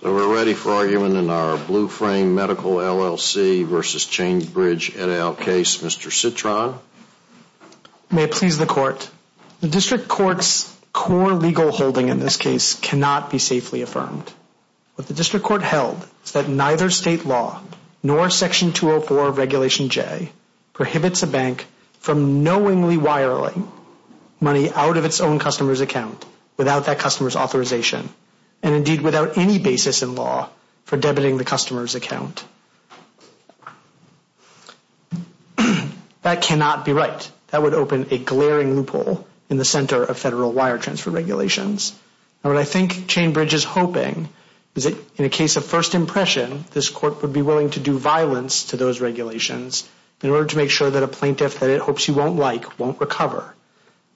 So we're ready for argument in our Blue Frame Medical LLC v. Chain Bridge, N.L. case. Mr. Citron. May it please the Court, the District Court's core legal holding in this case cannot be safely affirmed. What the District Court held is that neither state law nor Section 204 of Regulation J prohibits a bank from knowingly wiring money out of its own customer's account without that customer's authorization and indeed without any basis in law for debiting the customer's account. That cannot be right. That would open a glaring loophole in the center of federal wire transfer regulations. What I think Chain Bridge is hoping is that in a case of first impression, this Court would be willing to do violence to those regulations in order to make sure that a plaintiff that it hopes you won't like won't recover.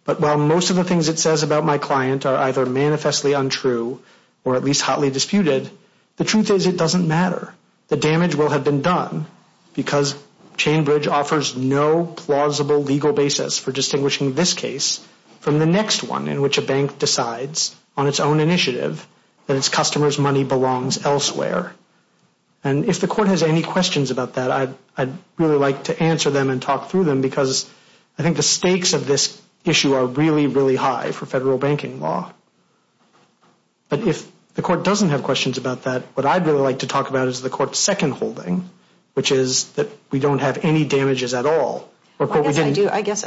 But while most of the things it says about my client are either manifestly untrue or at least hotly disputed, the truth is it doesn't matter. The damage will have been done because Chain Bridge offers no plausible legal basis for distinguishing this case from the next one in which a bank decides on its own initiative that its customer's money belongs elsewhere. And if the Court has any questions about that, I'd really like to answer them and talk through them because I think the stakes of this issue are really, really high for federal banking law. But if the Court doesn't have questions about that, what I'd really like to talk about is the Court's second holding, which is that we don't have any damages at all. I guess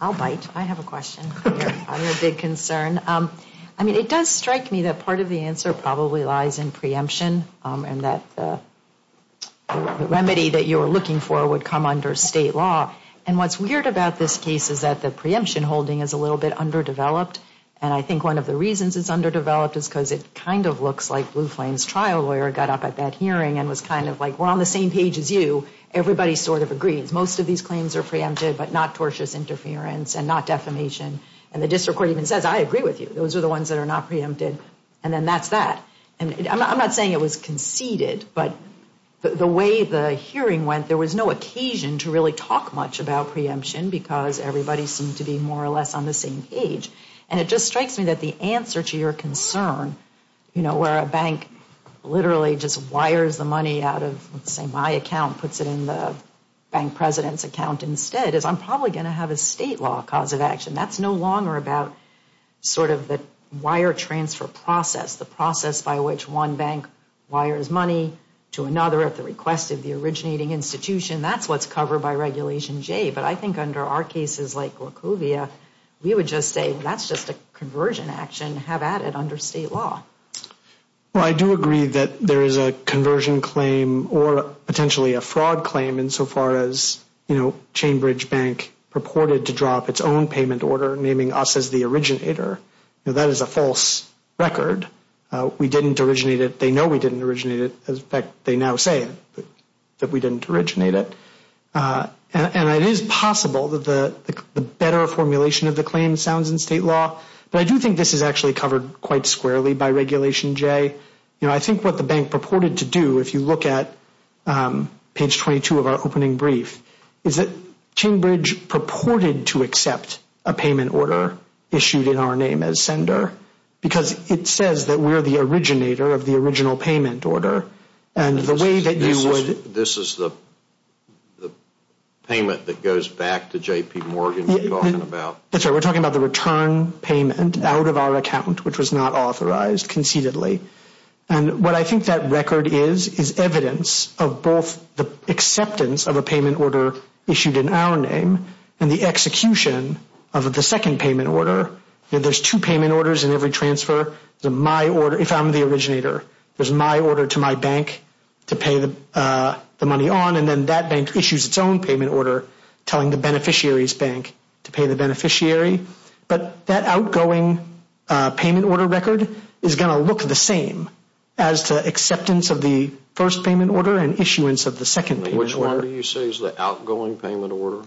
I'll bite. I have a question. I'm a big concern. I mean, it does strike me that part of the answer probably lies in preemption and that the remedy that you were looking for would come under state law. And what's weird about this case is that the preemption holding is a little bit underdeveloped. And I think one of the reasons it's underdeveloped is because it kind of looks like Blue Flame's trial lawyer got up at that hearing and was kind of like, we're on the same page as you. Everybody sort of agrees. Most of these claims are preempted, but not tortious interference and not defamation. And the district court even says, I agree with you. Those are the ones that are not preempted. And then that's that. And I'm not saying it was conceded, but the way the hearing went, there was no occasion to really talk much about preemption because everybody seemed to be more or less on the same page. And it just strikes me that the answer to your concern, where a bank literally just wires the money out of, say, my account, puts it in the bank president's account instead, is I'm probably going to have a state law cause of action. That's no longer about sort of the wire transfer process, the process by which one bank wires money to another at the request of the originating institution. That's what's covered by Regulation J. But I think under our cases like LaCouvia, we would just say, that's just a conversion action. Have at it under state law. Well, I do agree that there is a conversion claim or potentially a fraud claim insofar as, you know, Chainbridge Bank purported to drop its own payment order, naming us as the originator. That is a false record. We didn't originate it. They know we didn't originate it. In fact, they now say that we didn't originate it. And it is possible that the better formulation of the claim sounds in state law. But I do think this is actually covered quite squarely by Regulation J. You know, I think what the bank purported to do, if you look at page 22 of our opening brief, is that Chainbridge purported to accept a payment order issued in our name as sender because it says that we're the originator of the original payment order. And the way that you would This is the payment that goes back to J.P. Morgan we're talking about. That's right. We're talking about the return payment out of our account, which was not authorized conceitedly. And what I think that record is, is evidence of both the acceptance of a payment order issued in our name and the execution of the second payment order. There's two payment orders in every transfer. If I'm the originator, there's my order to my bank to pay the money on, and then that bank issues its own payment order telling the beneficiary's bank to pay the beneficiary. But that outgoing payment order record is going to look the same as the acceptance of the first payment order and issuance of the second payment order. Which one do you say is the outgoing payment order?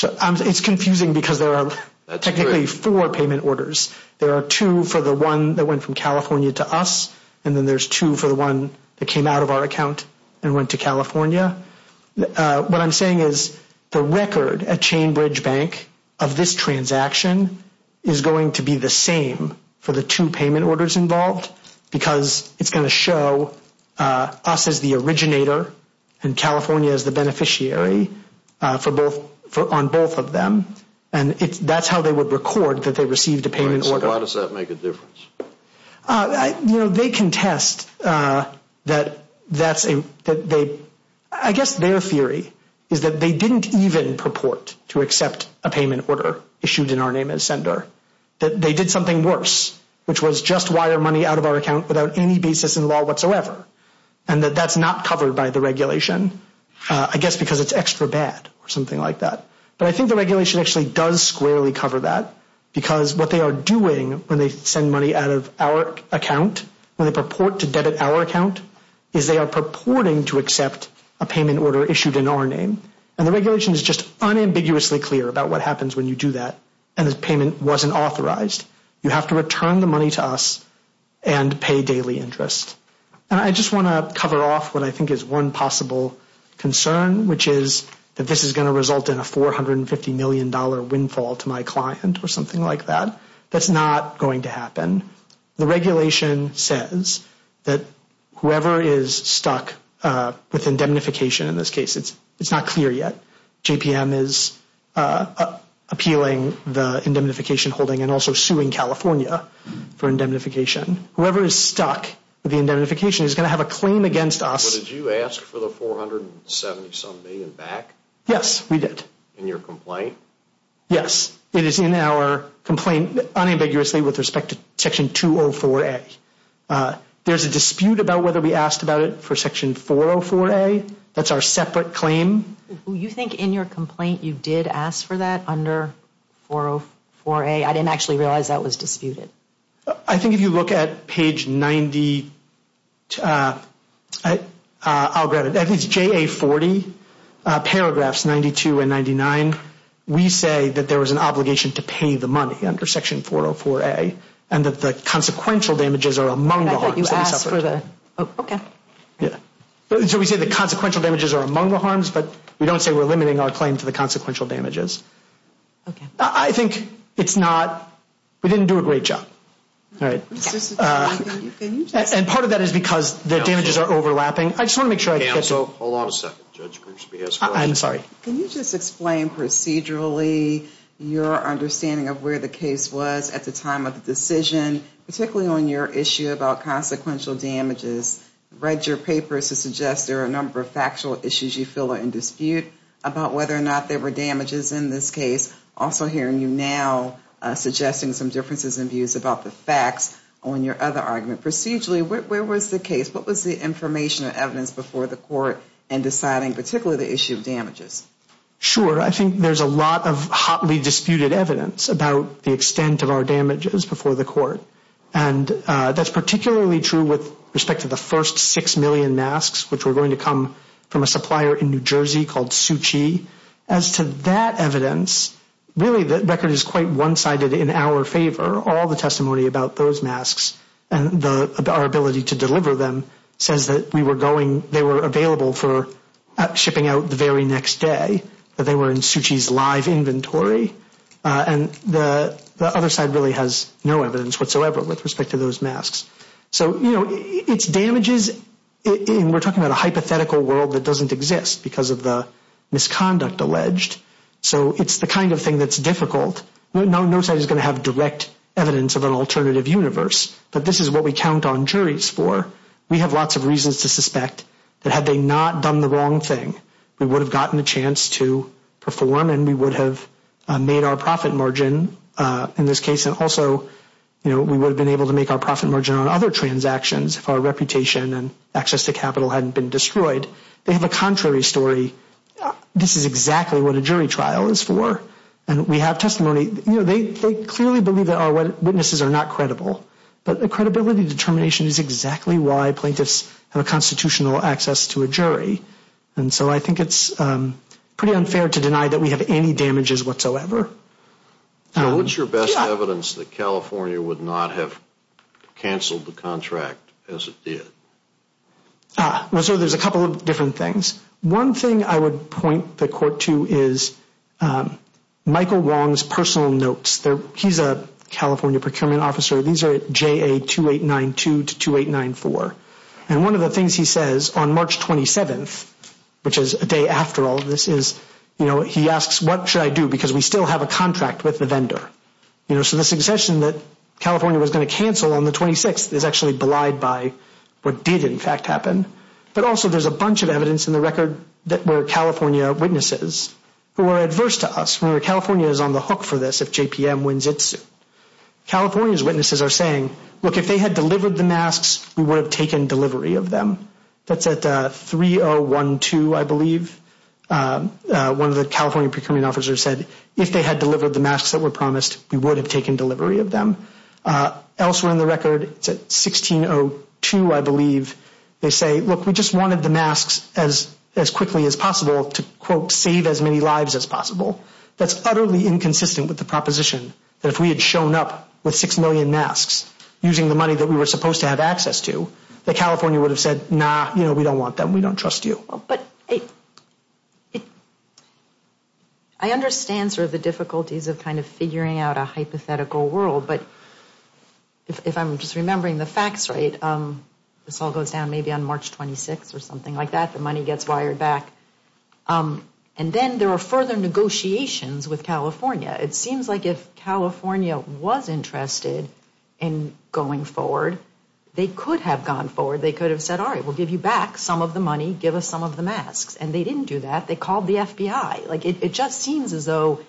It's confusing because there are technically four payment orders. There are two for the one that went from California to us, and then there's two for the one that came out of our account and went to California. What I'm saying is the record at Chain Bridge Bank of this transaction is going to be the same for the two payment orders involved because it's going to show us as the originator and California as the beneficiary on both of them, and that's how they would record that they received a payment order. Why does that make a difference? They contest that that's a – I guess their theory is that they didn't even purport to accept a payment order issued in our name as sender, that they did something worse, which was just wire money out of our account without any basis in law whatsoever, and that that's not covered by the regulation, I guess because it's extra bad or something like that. But I think the regulation actually does squarely cover that because what they are doing when they send money out of our account, when they purport to debit our account, is they are purporting to accept a payment order issued in our name. And the regulation is just unambiguously clear about what happens when you do that and the payment wasn't authorized. You have to return the money to us and pay daily interest. And I just want to cover off what I think is one possible concern, which is that this is going to result in a $450 million windfall to my client or something like that. That's not going to happen. The regulation says that whoever is stuck with indemnification in this case, it's not clear yet. JPM is appealing the indemnification holding and also suing California for indemnification. Whoever is stuck with indemnification is going to have a claim against us. Did you ask for the $470 million back? Yes, we did. In your complaint? Yes, it is in our complaint unambiguously with respect to Section 204A. There's a dispute about whether we asked about it for Section 404A. That's our separate claim. Do you think in your complaint you did ask for that under 404A? I didn't actually realize that was disputed. I think if you look at page 90, I'll grab it. It's JA40, paragraphs 92 and 99. We say that there was an obligation to pay the money under Section 404A and that the consequential damages are among the harms that we suffered. I thought you asked for the – okay. So we say the consequential damages are among the harms, but we don't say we're limiting our claim to the consequential damages. I think it's not – we didn't do a great job. And part of that is because the damages are overlapping. I just want to make sure I get to – Hold on a second. I'm sorry. Can you just explain procedurally your understanding of where the case was at the time of the decision, particularly on your issue about consequential damages? I read your papers to suggest there are a number of factual issues you feel are in dispute about whether or not there were damages in this case. Also hearing you now suggesting some differences in views about the facts on your other argument. Procedurally, where was the case? What was the information and evidence before the court in deciding particularly the issue of damages? Sure. I think there's a lot of hotly disputed evidence about the extent of our damages before the court. And that's particularly true with respect to the first 6 million masks, which were going to come from a supplier in New Jersey called Suchi. As to that evidence, really the record is quite one-sided in our favor. All the testimony about those masks and our ability to deliver them says that we were going – they were available for shipping out the very next day. They were in Suchi's live inventory. And the other side really has no evidence whatsoever with respect to those masks. So, you know, it's damages – and we're talking about a hypothetical world that doesn't exist because of the misconduct alleged. So it's the kind of thing that's difficult. No side is going to have direct evidence of an alternative universe. But this is what we count on juries for. We have lots of reasons to suspect that had they not done the wrong thing, we would have gotten a chance to perform and we would have made our profit margin in this case. And also, you know, we would have been able to make our profit margin on other transactions if our reputation and access to capital hadn't been destroyed. They have a contrary story. This is exactly what a jury trial is for. And we have testimony – you know, they clearly believe that our witnesses are not credible. But the credibility determination is exactly why plaintiffs have a constitutional access to a jury. And so I think it's pretty unfair to deny that we have any damages whatsoever. What's your best evidence that California would not have canceled the contract as it did? So there's a couple of different things. One thing I would point the court to is Michael Wong's personal notes. He's a California procurement officer. These are JA 2892 to 2894. And one of the things he says on March 27th, which is a day after all of this, is, you know, he asks what should I do because we still have a contract with the vendor. You know, so the succession that California was going to cancel on the 26th is actually belied by what did in fact happen. But also there's a bunch of evidence in the record that were California witnesses who are adverse to us. Remember, California is on the hook for this if JPM wins it soon. California's witnesses are saying, look, if they had delivered the masks, we would have taken delivery of them. That's at 3012, I believe. One of the California procurement officers said, if they had delivered the masks that were promised, we would have taken delivery of them. Elsewhere in the record, it's at 1602, I believe. They say, look, we just wanted the masks as quickly as possible to, quote, save as many lives as possible. That's utterly inconsistent with the proposition that if we had shown up with 6 million masks using the money that we were supposed to have access to, that California would have said, nah, you know, we don't want them, we don't trust you. But I understand sort of the difficulties of kind of figuring out a hypothetical world. But if I'm just remembering the facts right, this all goes down maybe on March 26th or something like that, the money gets wired back. And then there are further negotiations with California. It seems like if California was interested in going forward, they could have gone forward. They could have said, all right, we'll give you back some of the money. Give us some of the masks. And they didn't do that. They called the FBI. Like, it just seems as though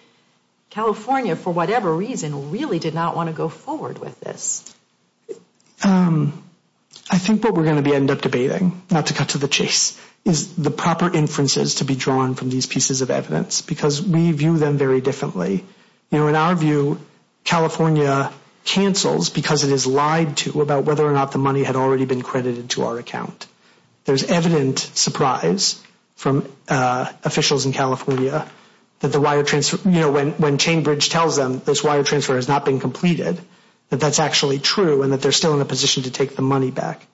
California, for whatever reason, really did not want to go forward with this. I think what we're going to end up debating, not to cut to the chase, is the proper inferences to be drawn from these pieces of evidence, because we view them very differently. You know, in our view, California cancels because it has lied to about whether or not the money had already been credited to our account. There's evident surprise from officials in California that the wire transfer, you know, when Chainbridge tells them this wire transfer has not been completed, that that's actually true and that they're still in a position to take the money back.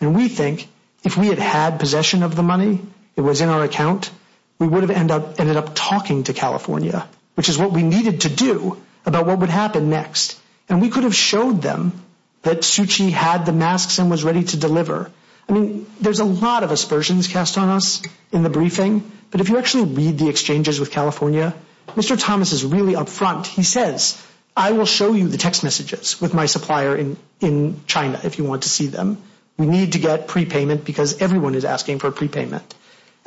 And we think if we had had possession of the money, it was in our account, we would have ended up talking to California, which is what we needed to do about what would happen next. And we could have showed them that Suchi had the masks and was ready to deliver. I mean, there's a lot of aspersions cast on us in the briefing, but if you actually read the exchanges with California, Mr. Thomas is really up front. He says, I will show you the text messages with my supplier in China, if you want to see them. We need to get prepayment because everyone is asking for a prepayment.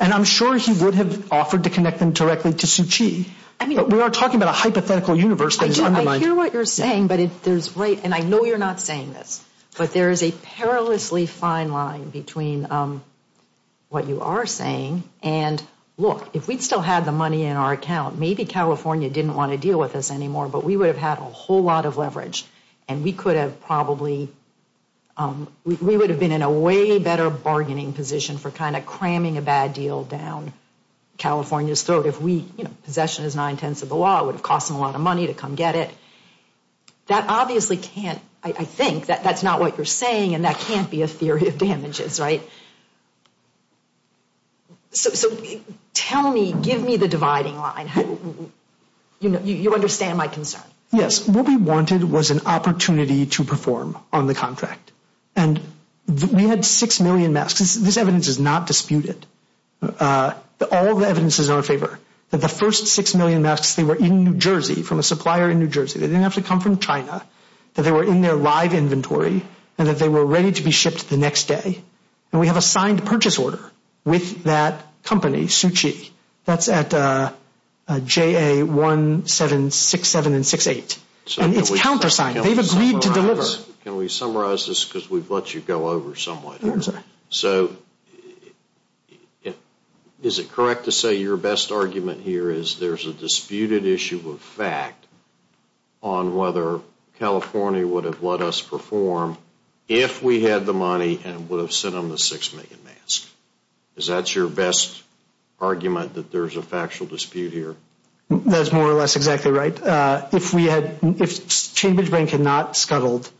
And I'm sure he would have offered to connect them directly to Suchi. We are talking about a hypothetical universe that is undermined. I hear what you're saying, and I know you're not saying this, but there is a perilously fine line between what you are saying and, look, if we'd still had the money in our account, maybe California didn't want to deal with us anymore, but we would have had a whole lot of leverage, and we would have been in a way better bargaining position for kind of cramming a bad deal down California's throat. If we, you know, possession is nine-tenths of the law, it would have cost them a lot of money to come get it. That obviously can't, I think, that's not what you're saying, and that can't be a theory of damages, right? So tell me, give me the dividing line. You understand my concern. Yes, what we wanted was an opportunity to perform on the contract. And we had six million masks. This evidence is not disputed. All the evidence is in our favor, that the first six million masks, they were in New Jersey from a supplier in New Jersey. They didn't have to come from China, that they were in their live inventory, and that they were ready to be shipped the next day. And we have a signed purchase order with that company, Suchi. That's at JA1767 and 68. And it's countersigned. They've agreed to deliver. Can we summarize this? Because we've let you go over somewhat here. So is it correct to say your best argument here is there's a disputed issue of fact on whether California would have let us perform if we had the money and would have sent them the six million masks? Is that your best argument, that there's a factual dispute here? That's more or less exactly right. If Chambers Bank had not scuttled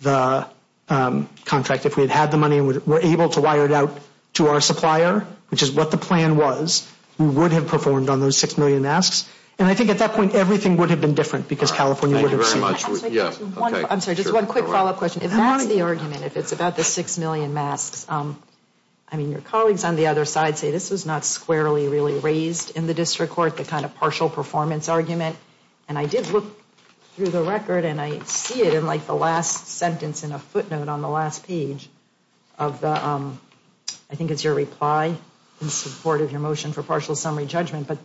the contract, if we had had the money and were able to wire it out to our supplier, which is what the plan was, we would have performed on those six million masks. And I think at that point, everything would have been different because California would have sued. Thank you very much. I'm sorry, just one quick follow-up question. If that's the argument, if it's about the six million masks, I mean, your colleagues on the other side say this was not squarely really raised in the district court, the kind of partial performance argument. And I did look through the record and I see it in like the last sentence in a footnote on the last page of the, I think it's your reply in support of your motion for partial summary judgment. But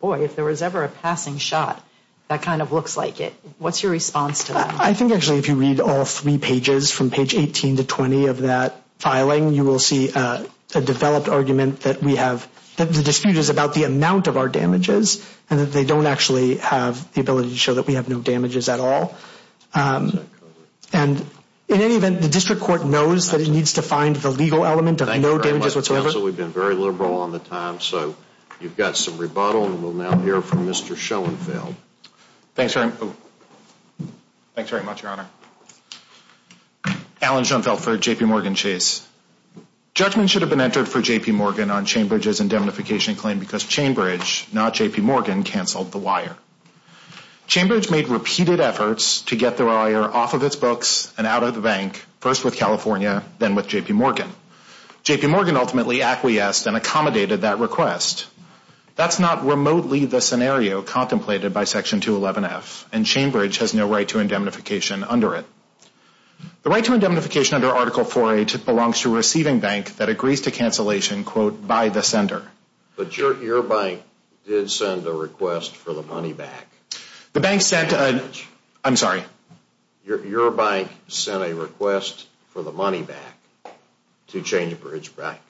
boy, if there was ever a passing shot, that kind of looks like it. What's your response to that? I think actually if you read all three pages from page 18 to 20 of that filing, you will see a developed argument that we have, that the dispute is about the amount of our damages and that they don't actually have the ability to show that we have no damages at all. And in any event, the district court knows that it needs to find the legal element of no damages whatsoever. We've been very liberal on the time, so you've got some rebuttal and we'll now hear from Mr. Schoenfeld. Thanks very much, Your Honor. Alan Schoenfeld for JPMorgan Chase. Judgment should have been entered for JPMorgan on Chambridge's indemnification claim because Chambridge, not JPMorgan, canceled the wire. Chambridge made repeated efforts to get the wire off of its books and out of the bank, first with California, then with JPMorgan. JPMorgan ultimately acquiesced and accommodated that request. That's not remotely the scenario contemplated by Section 211F, and Chambridge has no right to indemnification under it. The right to indemnification under Article 4A belongs to a receiving bank that agrees to cancellation, quote, by the sender. But your bank did send a request for the money back. The bank sent a... I'm sorry. Your bank sent a request for the money back to Chambridge Bank,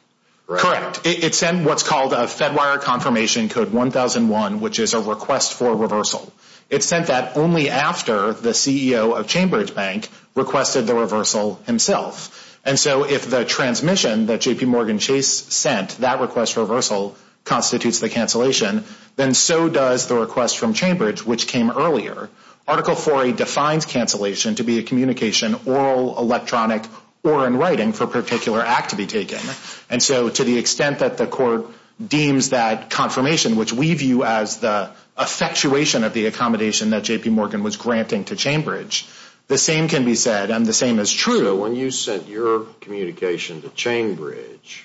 correct? Correct. It sent what's called a Fedwire Confirmation Code 1001, which is a request for reversal. It sent that only after the CEO of Chambridge Bank requested the reversal himself. And so if the transmission that JPMorgan Chase sent, that request for reversal, constitutes the cancellation, then so does the request from Chambridge, which came earlier. Article 4A defines cancellation to be a communication, oral, electronic, or in writing, for a particular act to be taken. And so to the extent that the court deems that confirmation, which we view as the effectuation of the accommodation that JPMorgan was granting to Chambridge, the same can be said, and the same is true. So when you sent your communication to Chambridge,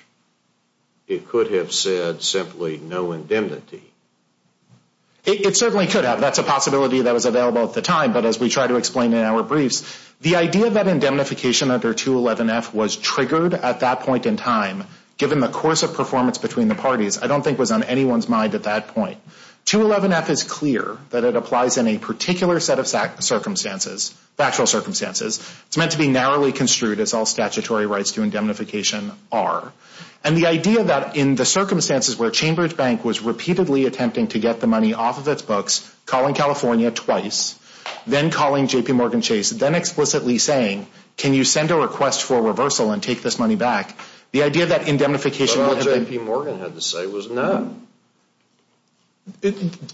it could have said simply no indemnity. It certainly could have. That's a possibility that was available at the time. But as we try to explain in our briefs, the idea that indemnification under 211F was triggered at that point in time, given the course of performance between the parties, I don't think was on anyone's mind at that point. 211F is clear that it applies in a particular set of circumstances, factual circumstances. It's meant to be narrowly construed, as all statutory rights to indemnification are. And the idea that in the circumstances where Chambridge Bank was repeatedly attempting to get the money off of its books, calling California twice, then calling JPMorgan Chase, then explicitly saying, can you send a request for reversal and take this money back, the idea that indemnification... But what JPMorgan had to say was no.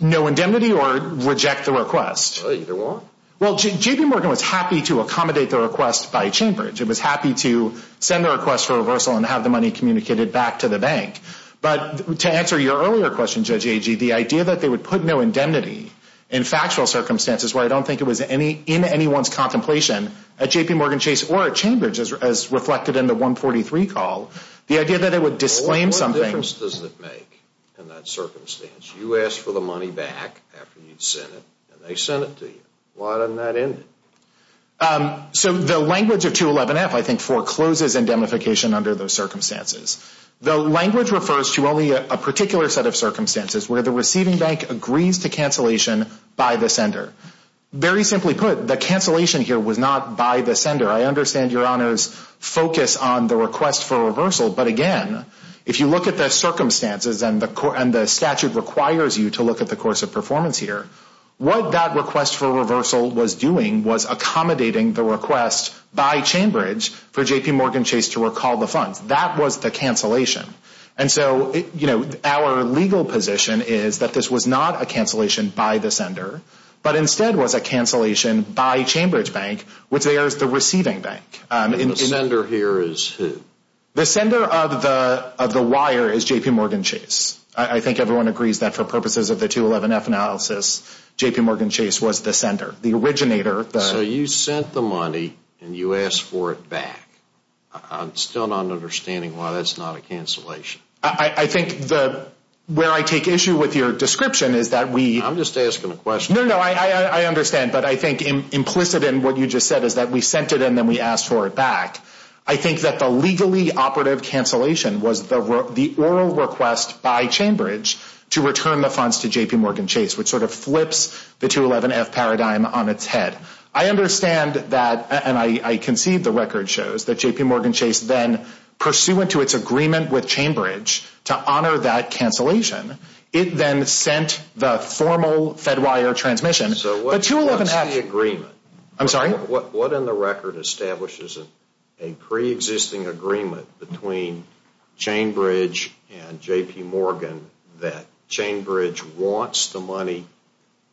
No indemnity or reject the request? Either one. Well, JPMorgan was happy to accommodate the request by Chambridge. It was happy to send the request for reversal and have the money communicated back to the bank. But to answer your earlier question, Judge Agee, the idea that they would put no indemnity in factual circumstances where I don't think it was in anyone's contemplation at JPMorgan Chase or at Chambridge, as reflected in the 143 call, the idea that it would disclaim something... What difference does it make in that circumstance? You asked for the money back after you'd sent it, and they sent it to you. Why doesn't that end it? So the language of 211F, I think, forecloses indemnification under those circumstances. The language refers to only a particular set of circumstances where the receiving bank agrees to cancellation by the sender. Very simply put, the cancellation here was not by the sender. I understand your Honor's focus on the request for reversal, but again, if you look at the circumstances and the statute requires you to look at the course of performance here, what that request for reversal was doing was accommodating the request by Chambridge for JPMorgan Chase to recall the funds. That was the cancellation. And so, you know, our legal position is that this was not a cancellation by the sender, but instead was a cancellation by Chambridge Bank, which there is the receiving bank. And the sender here is who? The sender of the wire is JPMorgan Chase. I think everyone agrees that for purposes of the 211F analysis, JPMorgan Chase was the sender, the originator. So you sent the money, and you asked for it back. I'm still not understanding why that's not a cancellation. I think where I take issue with your description is that we... I'm just asking a question. No, no, I understand, but I think implicit in what you just said is that we sent it, and then we asked for it back. I think that the legally operative cancellation was the oral request by Chambridge to return the funds to JPMorgan Chase, which sort of flips the 211F paradigm on its head. I understand that, and I concede the record shows, that JPMorgan Chase then, pursuant to its agreement with Chambridge to honor that cancellation, it then sent the formal Fedwire transmission. So what's the agreement? I'm sorry? What in the record establishes a pre-existing agreement between Chambridge and JPMorgan that Chambridge wants the money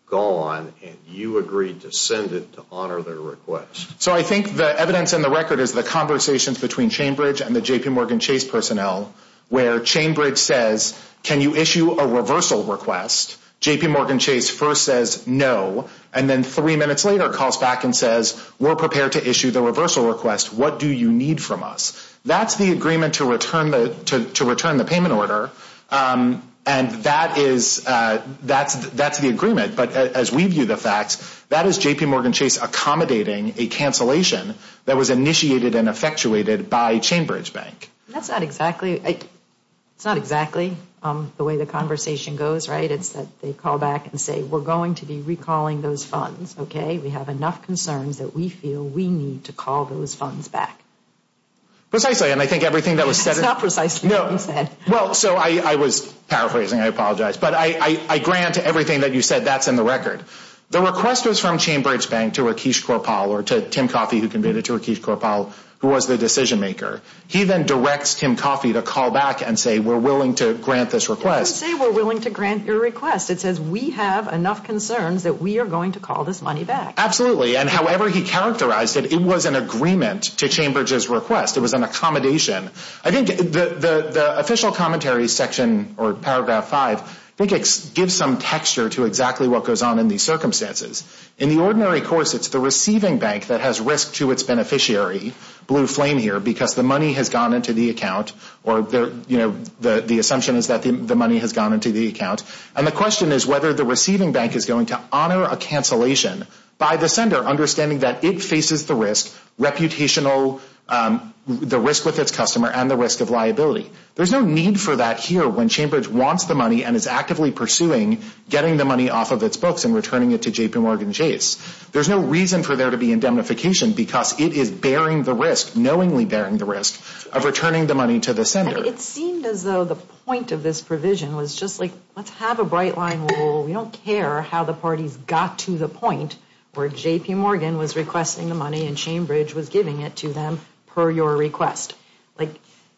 gone, and you agreed to send it to honor their request? So I think the evidence in the record is the conversations between Chambridge and the JPMorgan Chase personnel, where Chambridge says, can you issue a reversal request? JPMorgan Chase first says no, and then three minutes later calls back and says, we're prepared to issue the reversal request. What do you need from us? That's the agreement to return the payment order, and that's the agreement. But as we view the facts, that is JPMorgan Chase accommodating a cancellation that was initiated and effectuated by Chambridge Bank. That's not exactly the way the conversation goes, right? It's that they call back and say, we're going to be recalling those funds, okay? We have enough concerns that we feel we need to call those funds back. Precisely, and I think everything that was said – It's not precisely what you said. Well, so I was paraphrasing. I apologize. But I grant everything that you said, that's in the record. The request was from Chambridge Bank to Rakesh Kaurpal, or to Tim Coffey who conveyed it to Rakesh Kaurpal, who was the decision maker. He then directs Tim Coffey to call back and say, we're willing to grant this request. It doesn't say we're willing to grant your request. It says we have enough concerns that we are going to call this money back. Absolutely, and however he characterized it, it was an agreement to Chambridge's request. It was an accommodation. I think the official commentary section, or paragraph 5, I think gives some texture to exactly what goes on in these circumstances. In the ordinary course, it's the receiving bank that has risk to its beneficiary, blue flame here, because the money has gone into the account, or the assumption is that the money has gone into the account. And the question is whether the receiving bank is going to honor a cancellation by the sender understanding that it faces the risk, reputational, the risk with its customer, and the risk of liability. There's no need for that here when Chambridge wants the money and is actively pursuing getting the money off of its books and returning it to JPMorgan Chase. There's no reason for there to be indemnification because it is bearing the risk, knowingly bearing the risk, of returning the money to the sender. It seemed as though the point of this provision was just like, let's have a bright line rule. We don't care how the parties got to the point where JPMorgan was requesting the money and Chambridge was giving it to them per your request. Like,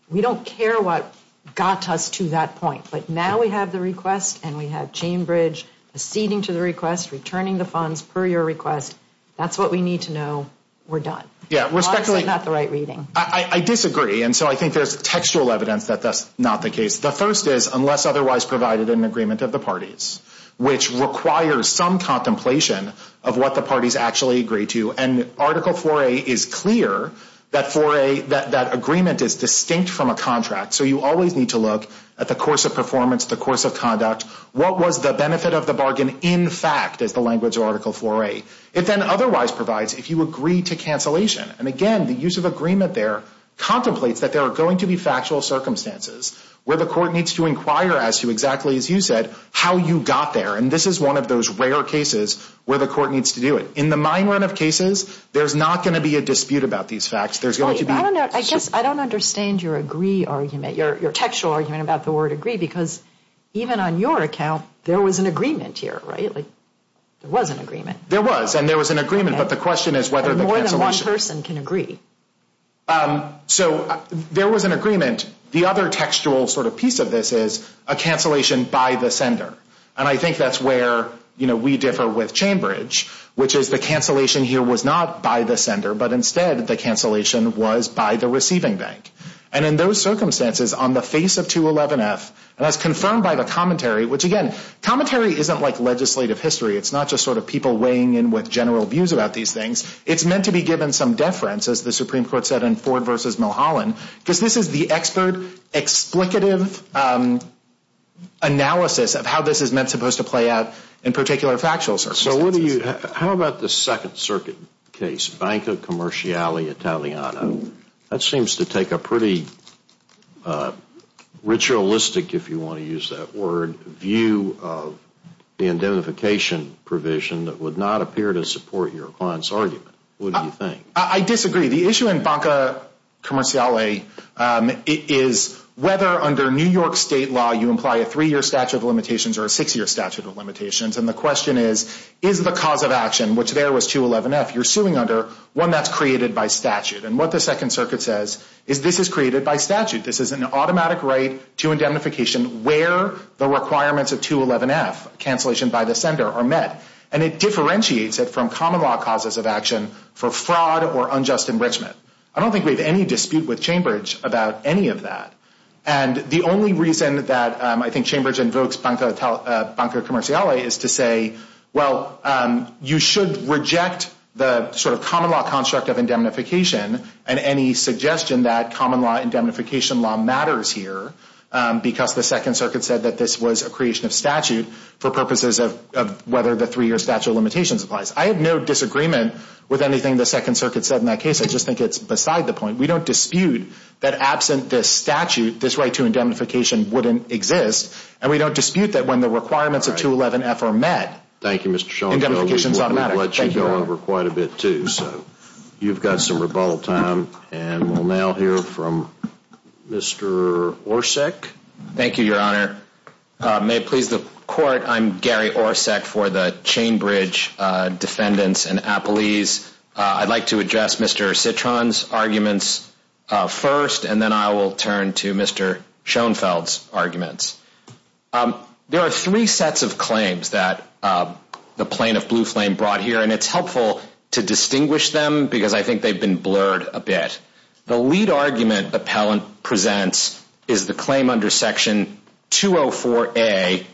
we don't care what got us to that point, but now we have the request and we have Chambridge acceding to the request, returning the funds per your request. That's what we need to know. We're done. Honestly, not the right reading. I disagree, and so I think there's textual evidence that that's not the case. The first is unless otherwise provided an agreement of the parties, which requires some contemplation of what the parties actually agree to. And Article 4A is clear that agreement is distinct from a contract, so you always need to look at the course of performance, the course of conduct. What was the benefit of the bargain in fact is the language of Article 4A. It then otherwise provides if you agree to cancellation. And, again, the use of agreement there contemplates that there are going to be factual circumstances where the court needs to inquire as to exactly, as you said, how you got there. And this is one of those rare cases where the court needs to do it. In the mine run of cases, there's not going to be a dispute about these facts. I guess I don't understand your agree argument, your textual argument about the word agree, because even on your account there was an agreement here, right? There was an agreement. There was, and there was an agreement, but the question is whether the cancellation. More than one person can agree. So there was an agreement. The other textual sort of piece of this is a cancellation by the sender. And I think that's where we differ with Chambridge, which is the cancellation here was not by the sender, but instead the cancellation was by the receiving bank. And in those circumstances, on the face of 211F, and as confirmed by the commentary, which, again, commentary isn't like legislative history. It's not just sort of people weighing in with general views about these things. It's meant to be given some deference, as the Supreme Court said in Ford versus Mulholland, because this is the expert, explicative analysis of how this is meant to play out in particular factual circumstances. So what do you, how about the Second Circuit case, Banco Commerciale Italiano? That seems to take a pretty ritualistic, if you want to use that word, view of the indemnification provision that would not appear to support your client's argument. What do you think? I disagree. The issue in Banco Commerciale is whether, under New York State law, you imply a three-year statute of limitations or a six-year statute of limitations. And the question is, is the cause of action, which there was 211F, you're suing under, one that's created by statute. And what the Second Circuit says is this is created by statute. This is an automatic right to indemnification where the requirements of 211F, cancellation by the sender, are met. And it differentiates it from common law causes of action for fraud or unjust enrichment. I don't think we have any dispute with Chambers about any of that. And the only reason that I think Chambers invokes Banco Commerciale is to say, well, you should reject the sort of common law construct of indemnification and any suggestion that common law indemnification law matters here because the Second Circuit said that this was a creation of statute for purposes of whether the three-year statute of limitations applies. I have no disagreement with anything the Second Circuit said in that case. I just think it's beside the point. We don't dispute that absent this statute, this right to indemnification wouldn't exist. And we don't dispute that when the requirements of 211F are met, indemnifications don't matter. We've let you go over quite a bit, too. So you've got some rebuttal time. And we'll now hear from Mr. Orsek. Thank you, Your Honor. May it please the Court, I'm Gary Orsek for the Chainbridge Defendants and Appellees. I'd like to address Mr. Citron's arguments first, and then I will turn to Mr. Schoenfeld's arguments. There are three sets of claims that the Plain of Blue Flame brought here, and it's helpful to distinguish them because I think they've been blurred a bit. The lead argument the appellant presents is the claim under Section 204A,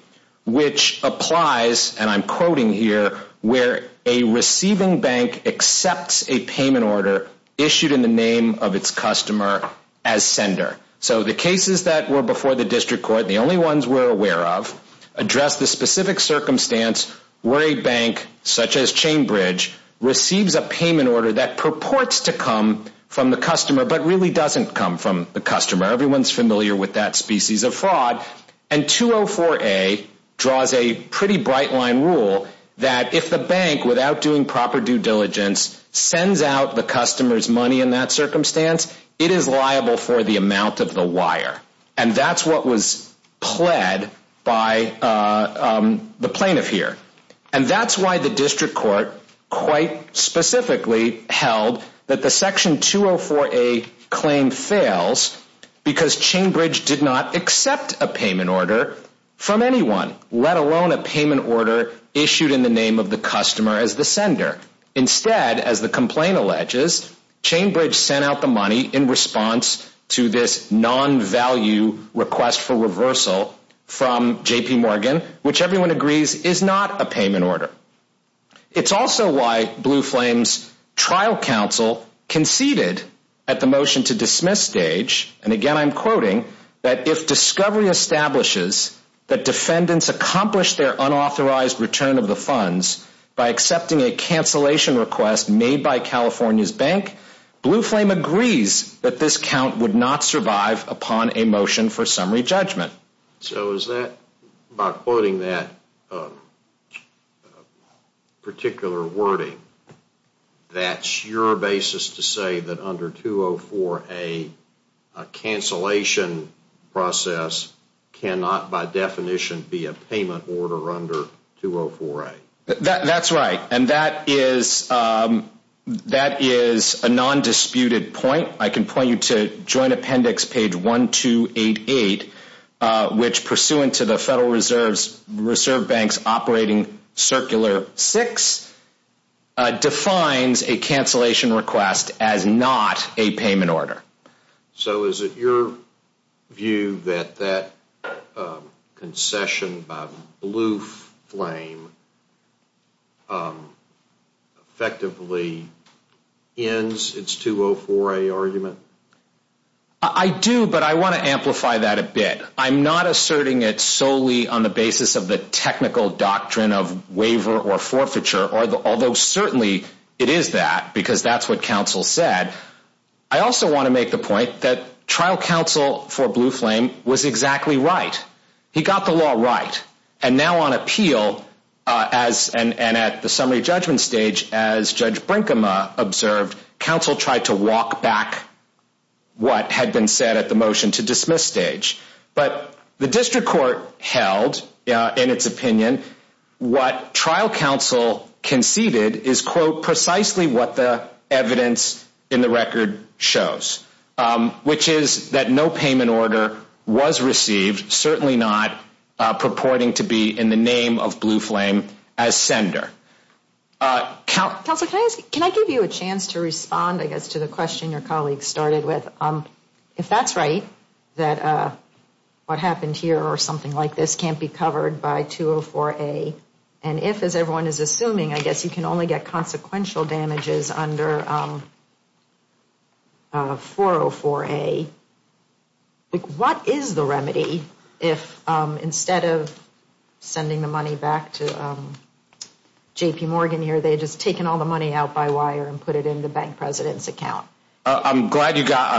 which applies, and I'm quoting here, where a receiving bank accepts a payment order issued in the name of its customer as sender. So the cases that were before the District Court, the only ones we're aware of, address the specific circumstance where a bank, such as Chainbridge, receives a payment order that purports to come from the customer, but really doesn't come from the customer. Everyone's familiar with that species of fraud. And 204A draws a pretty bright-line rule that if the bank, without doing proper due diligence, sends out the customer's money in that circumstance, it is liable for the amount of the wire. And that's what was pled by the plaintiff here. And that's why the District Court quite specifically held that the Section 204A claim fails because Chainbridge did not accept a payment order from anyone, let alone a payment order issued in the name of the customer as the sender. Instead, as the complaint alleges, Chainbridge sent out the money in response to this non-value request for reversal from J.P. Morgan, which everyone agrees is not a payment order. It's also why Blue Flame's trial counsel conceded at the motion-to-dismiss stage, and again I'm quoting, that if discovery establishes that defendants accomplish their unauthorized return of the funds by accepting a cancellation request made by California's bank, Blue Flame agrees that this count would not survive upon a motion for summary judgment. So is that, by quoting that particular wording, that's your basis to say that under 204A, a cancellation process cannot by definition be a payment order under 204A? That's right. And that is a non-disputed point. I can point you to Joint Appendix page 1288, which pursuant to the Federal Reserve Bank's Operating Circular 6, defines a cancellation request as not a payment order. So is it your view that that concession by Blue Flame effectively ends its 204A argument? I do, but I want to amplify that a bit. I'm not asserting it solely on the basis of the technical doctrine of waiver or forfeiture, although certainly it is that, because that's what counsel said. I also want to make the point that trial counsel for Blue Flame was exactly right. He got the law right. And now on appeal, and at the summary judgment stage, as Judge Brinkema observed, counsel tried to walk back what had been said at the motion to dismiss stage. But the district court held, in its opinion, what trial counsel conceded is, quote, precisely what the evidence in the record shows, which is that no payment order was received, certainly not purporting to be in the name of Blue Flame as sender. Counsel, can I give you a chance to respond, I guess, to the question your colleague started with? If that's right, that what happened here or something like this can't be covered by 204A, and if, as everyone is assuming, I guess you can only get consequential damages under 404A, what is the remedy if, instead of sending the money back to J.P. Morgan here, they had just taken all the money out by wire and put it in the bank president's account? I'm glad you got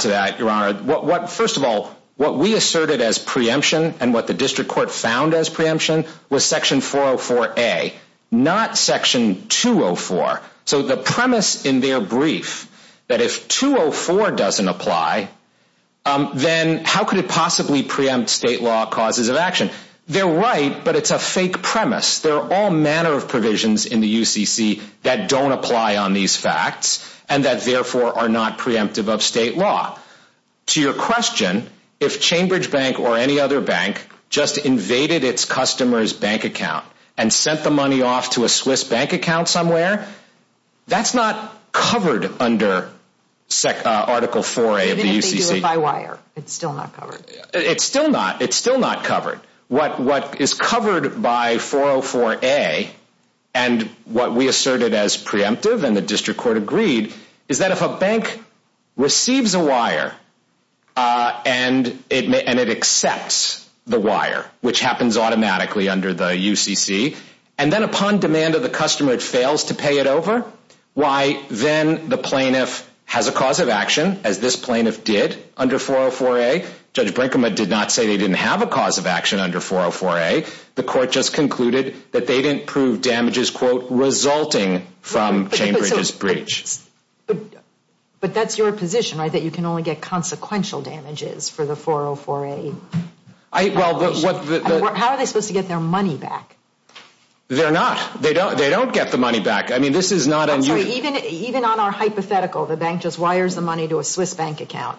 to that, Your Honor. First of all, what we asserted as preemption and what the district court found as preemption was section 404A, not section 204. So the premise in their brief that if 204 doesn't apply, then how could it possibly preempt state law causes of action? They're right, but it's a fake premise. There are all manner of provisions in the UCC that don't apply on these facts and that, therefore, are not preemptive of state law. To your question, if Chambridge Bank or any other bank just invaded its customer's bank account and sent the money off to a Swiss bank account somewhere, that's not covered under Article 4A of the UCC. Even if they do it by wire, it's still not covered. It's still not. It's still not covered. What is covered by 404A and what we asserted as preemptive and the district court agreed is that if a bank receives a wire and it accepts the wire, which happens automatically under the UCC, and then upon demand of the customer it fails to pay it over, why then the plaintiff has a cause of action as this plaintiff did under 404A. Judge Brinkman did not say they didn't have a cause of action under 404A. The court just concluded that they didn't prove damages, quote, resulting from Chambridge's breach. But that's your position, right, that you can only get consequential damages for the 404A? How are they supposed to get their money back? They're not. They don't get the money back. I mean, this is not unusual. Even on our hypothetical, the bank just wires the money to a Swiss bank account.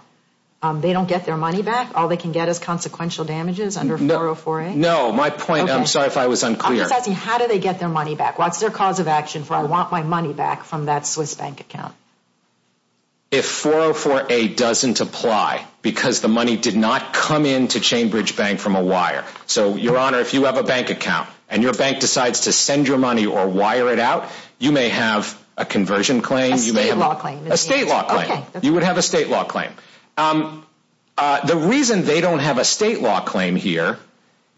They don't get their money back? All they can get is consequential damages under 404A? No, my point, I'm sorry if I was unclear. I'm just asking, how do they get their money back? What's their cause of action for I want my money back from that Swiss bank account? If 404A doesn't apply because the money did not come into Chambridge Bank from a wire. So, Your Honor, if you have a bank account and your bank decides to send your money or wire it out, you may have a conversion claim. A state law claim. A state law claim. You would have a state law claim. The reason they don't have a state law claim here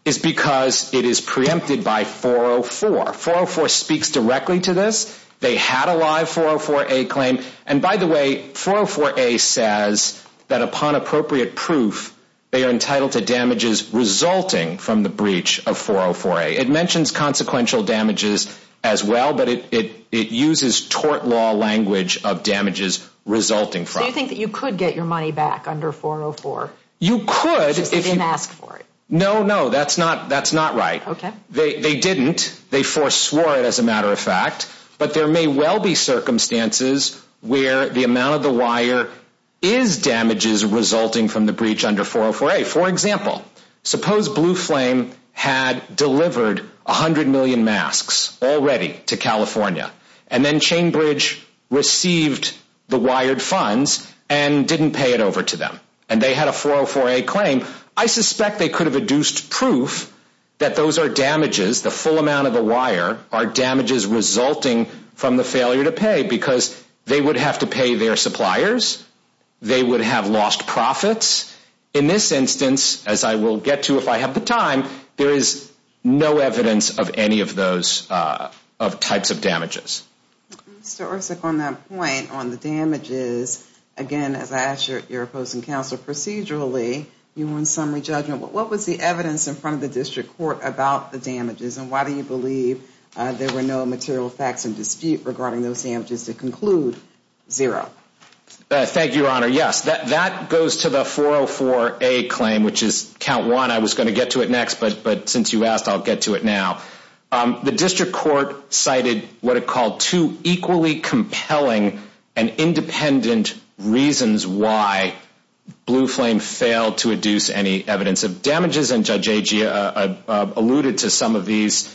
is because it is preempted by 404. 404 speaks directly to this. They had a live 404A claim. And by the way, 404A says that upon appropriate proof, they are entitled to damages resulting from the breach of 404A. It mentions consequential damages as well, but it uses tort law language of damages resulting from it. So you think that you could get your money back under 404? You could. Just didn't ask for it? No, no, that's not right. Okay. They didn't. They forswore it as a matter of fact, but there may well be circumstances where the amount of the wire is damages resulting from the breach under 404A. For example, suppose Blue Flame had delivered 100 million masks already to California and then Chambridge received the wired funds and didn't pay it over to them. And they had a 404A claim. I suspect they could have adduced proof that those are damages, the full amount of the wire are damages resulting from the failure to pay because they would have to pay their suppliers. They would have lost profits. In this instance, as I will get to if I have the time, there is no evidence of any of those types of damages. Mr. Orsik, on that point, on the damages, again, as I ask your opposing counsel procedurally, you want summary judgment. What was the evidence in front of the district court about the damages and why do you believe there were no material facts in dispute regarding those damages to conclude zero? Thank you, Your Honor. Yes, that goes to the 404A claim, which is count one. I was going to get to it next, but since you asked, I'll get to it now. The district court cited what it called two equally compelling and independent reasons why Blue Flame failed to adduce any evidence of damages, and Judge Agia alluded to some of these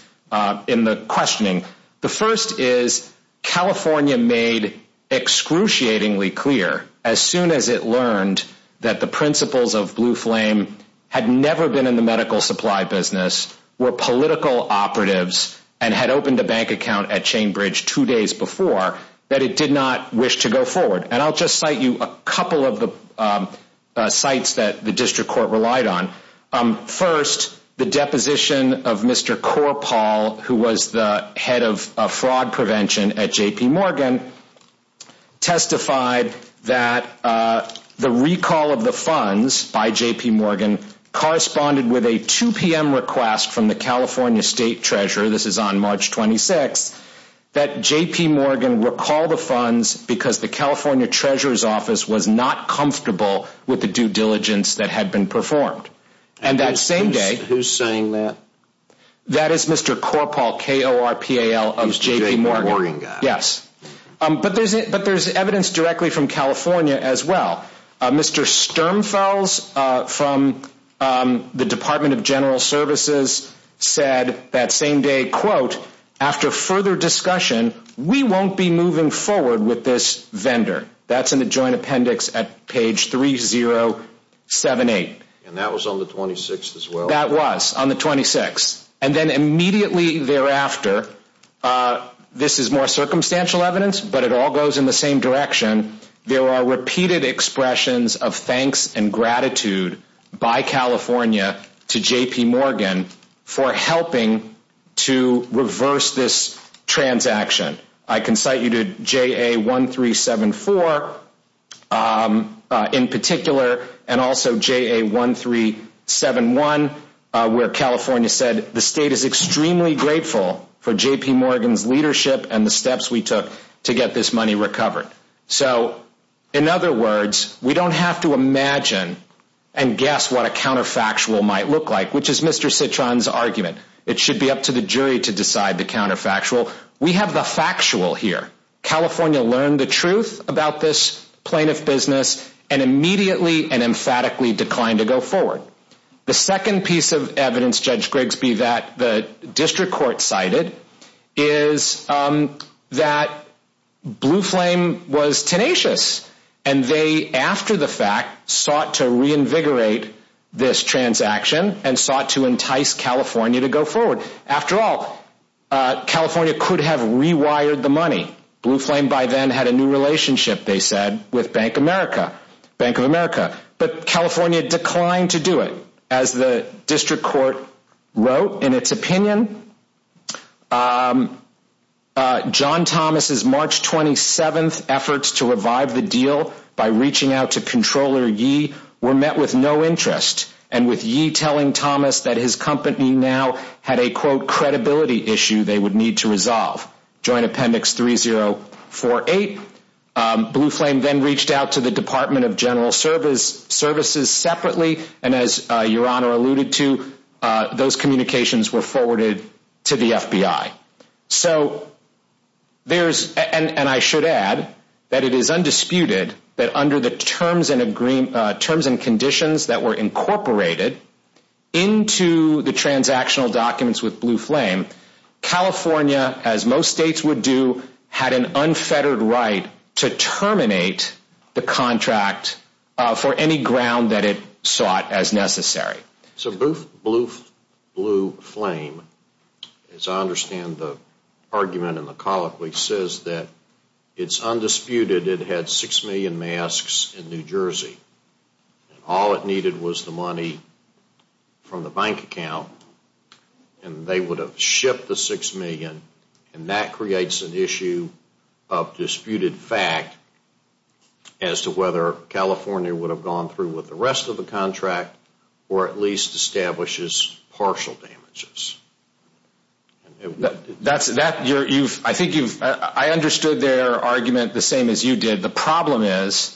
in the questioning. The first is California made excruciatingly clear as soon as it learned that the principles of Blue Flame had never been in the medical supply business, were political operatives, and had opened a bank account at Chain Bridge two days before, that it did not wish to go forward. And I'll just cite you a couple of the sites that the district court relied on. First, the deposition of Mr. Corpall, who was the head of fraud prevention at J.P. Morgan, testified that the recall of the funds by J.P. Morgan corresponded with a 2 p.m. request from the California State Treasurer, this is on March 26th, that J.P. Morgan recalled the funds because the California Treasurer's Office was not comfortable with the due diligence that had been performed. And that same day... Who's saying that? That is Mr. Corpall, K-O-R-P-A-L, of J.P. Morgan. He's the J.P. Morgan guy. Yes. But there's evidence directly from California as well. Mr. Sturmfels from the Department of General Services said that same day, quote, after further discussion, we won't be moving forward with this vendor. That's in the joint appendix at page 3078. And that was on the 26th as well? That was on the 26th. And then immediately thereafter, this is more circumstantial evidence, but it all goes in the same direction. There are repeated expressions of thanks and gratitude by California to J.P. Morgan for helping to reverse this transaction. I can cite you to JA1374 in particular and also JA1371 where California said, the state is extremely grateful for J.P. Morgan's leadership and the steps we took to get this money recovered. So in other words, we don't have to imagine and guess what a counterfactual might look like, which is Mr. Citron's argument. It should be up to the jury to decide the counterfactual. We have the factual here. California learned the truth about this plaintiff business and immediately and emphatically declined to go forward. The second piece of evidence, Judge Grigsby, that the district court cited is that Blue Flame was tenacious and they, after the fact, sought to reinvigorate this transaction and sought to entice California to go forward. After all, California could have rewired the money. Blue Flame by then had a new relationship, they said, with Bank of America. But California declined to do it. As the district court wrote in its opinion, John Thomas' March 27th efforts to revive the deal by reaching out to Comptroller Yee were met with no interest. And with Yee telling Thomas that his company now had a, quote, credibility issue they would need to resolve. Joint Appendix 3048. Blue Flame then reached out to the Department of General Services separately. And as Your Honor alluded to, those communications were forwarded to the FBI. So there's, and I should add, that it is undisputed that under the terms and conditions that were incorporated into the transactional documents with Blue Flame, California, as most states would do, had an unfettered right to terminate the contract for any ground that it sought as necessary. So Blue Flame, as I understand the argument in the colloquy, says that it's undisputed it had six million masks in New Jersey. And all it needed was the money from the bank account and they would have shipped the six million. And that creates an issue of disputed fact as to whether California would have gone through with the rest of the contract or at least establishes partial damages. I think you've, I understood their argument the same as you did. The problem is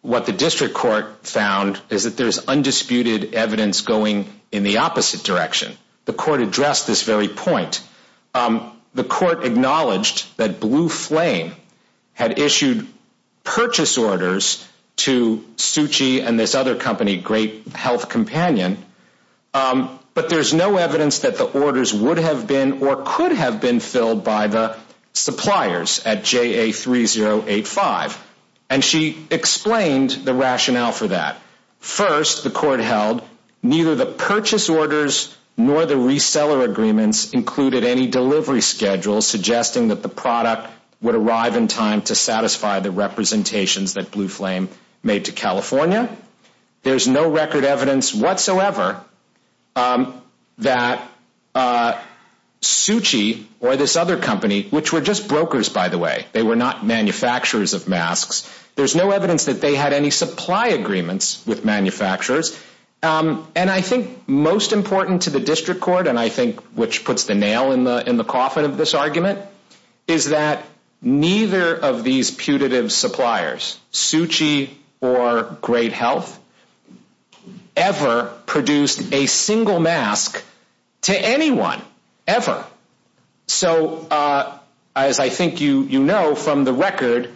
what the district court found is that there's undisputed evidence going in the opposite direction. The court addressed this very point. The court acknowledged that Blue Flame had issued purchase orders to Suchi and this other company, Great Health Companion, but there's no evidence that the orders would have been or could have been filled by the suppliers at JA3085. And she explained the rationale for that. First, the court held, neither the purchase orders nor the reseller agreements included any delivery schedules suggesting that the product would arrive in time to satisfy the representations that Blue Flame made to California. There's no record evidence whatsoever that Suchi or this other company, which were just brokers, by the way, they were not manufacturers of masks. There's no evidence that they had any supply agreements with manufacturers. And I think most important to the district court, and I think which puts the nail in the coffin of this argument, is that neither of these putative suppliers, Suchi or Great Health, ever produced a single mask to anyone, ever. So, as I think you know from the record,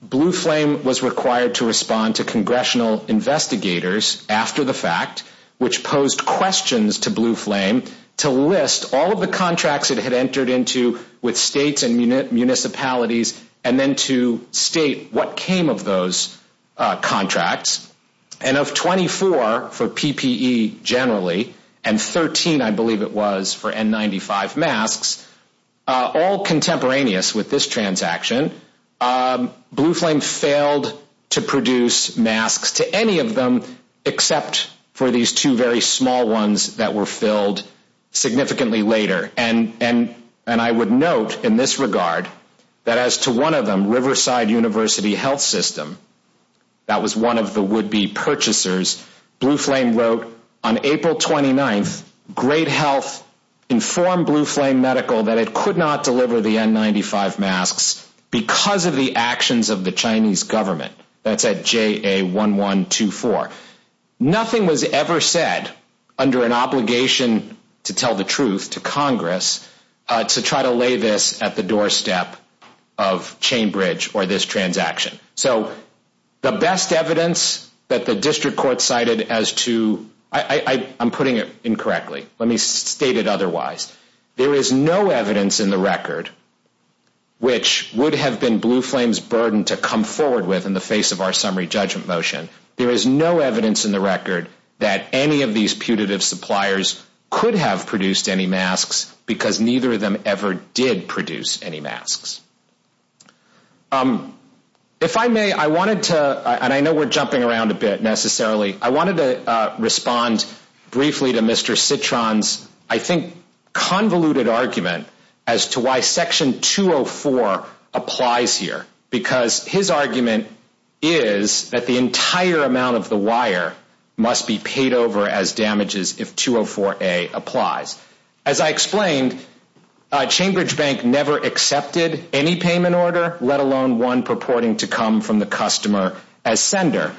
Blue Flame was required to respond to congressional investigators after the fact, which posed questions to Blue Flame to list all of the contracts it had entered into with states and municipalities and then to state what came of those contracts. And of 24 for PPE generally, and 13, I believe it was, for N95 masks, all contemporaneous with this transaction, Blue Flame failed to produce masks to any of them except for these two very small ones that were filled significantly later. And I would note in this regard that as to one of them, Riverside University Health System, that was one of the would-be purchasers, Blue Flame wrote on April 29th, Great Health informed Blue Flame Medical that it could not deliver the N95 masks because of the actions of the Chinese government. That's at JA1124. Nothing was ever said under an obligation to tell the truth to Congress to try to lay this at the doorstep of Chainbridge or this transaction. So, the best evidence that the district court cited as to, I'm putting it incorrectly, let me state it otherwise, there is no evidence in the record which would have been Blue Flame's burden to come forward with in the face of our summary judgment motion. There is no evidence in the record that any of these putative suppliers could have produced any masks because neither of them ever did produce any masks. If I may, I wanted to, and I know we're jumping around a bit necessarily, I wanted to respond briefly to Mr. Citron's, I think, convoluted argument as to why Section 204 applies here. Because his argument is that the entire amount of the wire must be paid over as damages if 204A applies. As I explained, Chainbridge Bank never accepted any payment order, let alone one purporting to come from the customer as sender.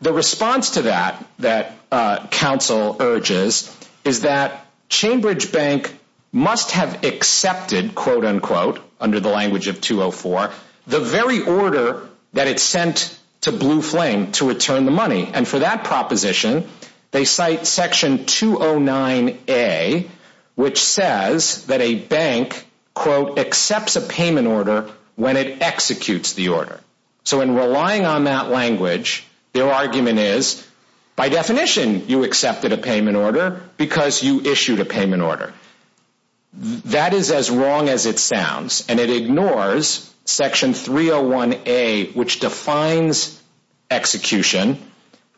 The response to that, that counsel urges, is that Chainbridge Bank must have accepted, quote unquote, under the language of 204, the very order that it sent to Blue Flame to return the money. And for that proposition, they cite Section 209A, which says that a bank, quote, accepts a payment order when it executes the order. So in relying on that language, their argument is, by definition, you accepted a payment order because you issued a payment order. That is as wrong as it sounds, and it ignores Section 301A, which defines execution,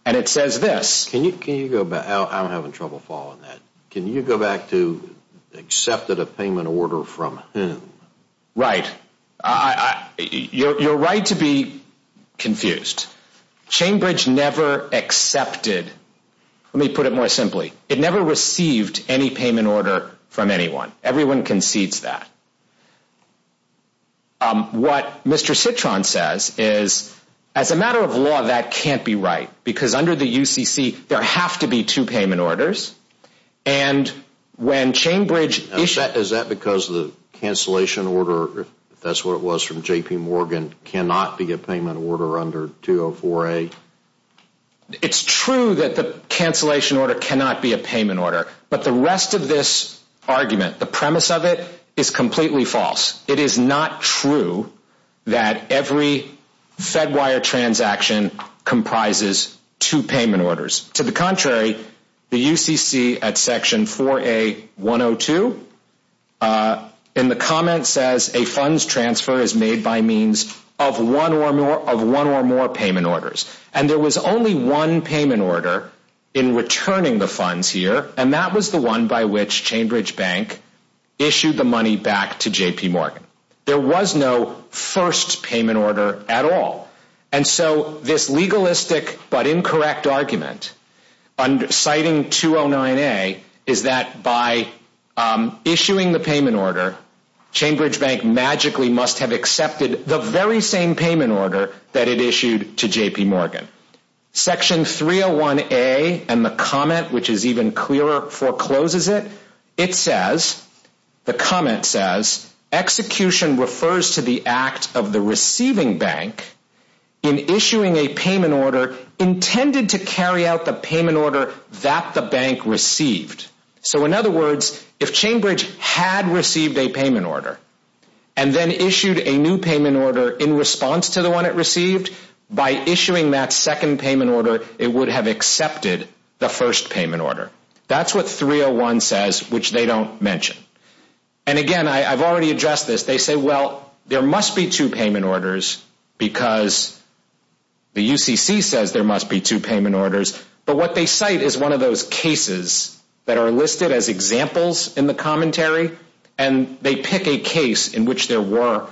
and it says this. Can you go back? I'm having trouble following that. Can you go back to accepted a payment order from whom? Right. You're right to be confused. Chainbridge never accepted, let me put it more simply, it never received any payment order from anyone. Everyone concedes that. What Mr. Citron says is, as a matter of law, that can't be right, because under the UCC, there have to be two payment orders. Is that because the cancellation order, if that's what it was from J.P. Morgan, cannot be a payment order under 204A? It's true that the cancellation order cannot be a payment order. But the rest of this argument, the premise of it, is completely false. It is not true that every Fedwire transaction comprises two payment orders. To the contrary, the UCC at Section 4A-102, in the comments says, a funds transfer is made by means of one or more payment orders. And there was only one payment order in returning the funds here, and that was the one by which Chainbridge Bank issued the money back to J.P. Morgan. There was no first payment order at all. And so this legalistic but incorrect argument, citing 209A, is that by issuing the payment order, Chainbridge Bank magically must have accepted the very same payment order that it issued to J.P. Morgan. Section 301A, and the comment, which is even clearer, forecloses it. It says, the comment says, execution refers to the act of the receiving bank, in issuing a payment order, intended to carry out the payment order that the bank received. So in other words, if Chainbridge had received a payment order, and then issued a new payment order in response to the one it received, by issuing that second payment order, it would have accepted the first payment order. That's what 301 says, which they don't mention. And again, I've already addressed this. They say, well, there must be two payment orders, because the UCC says there must be two payment orders. But what they cite is one of those cases that are listed as examples in the commentary, and they pick a case in which there were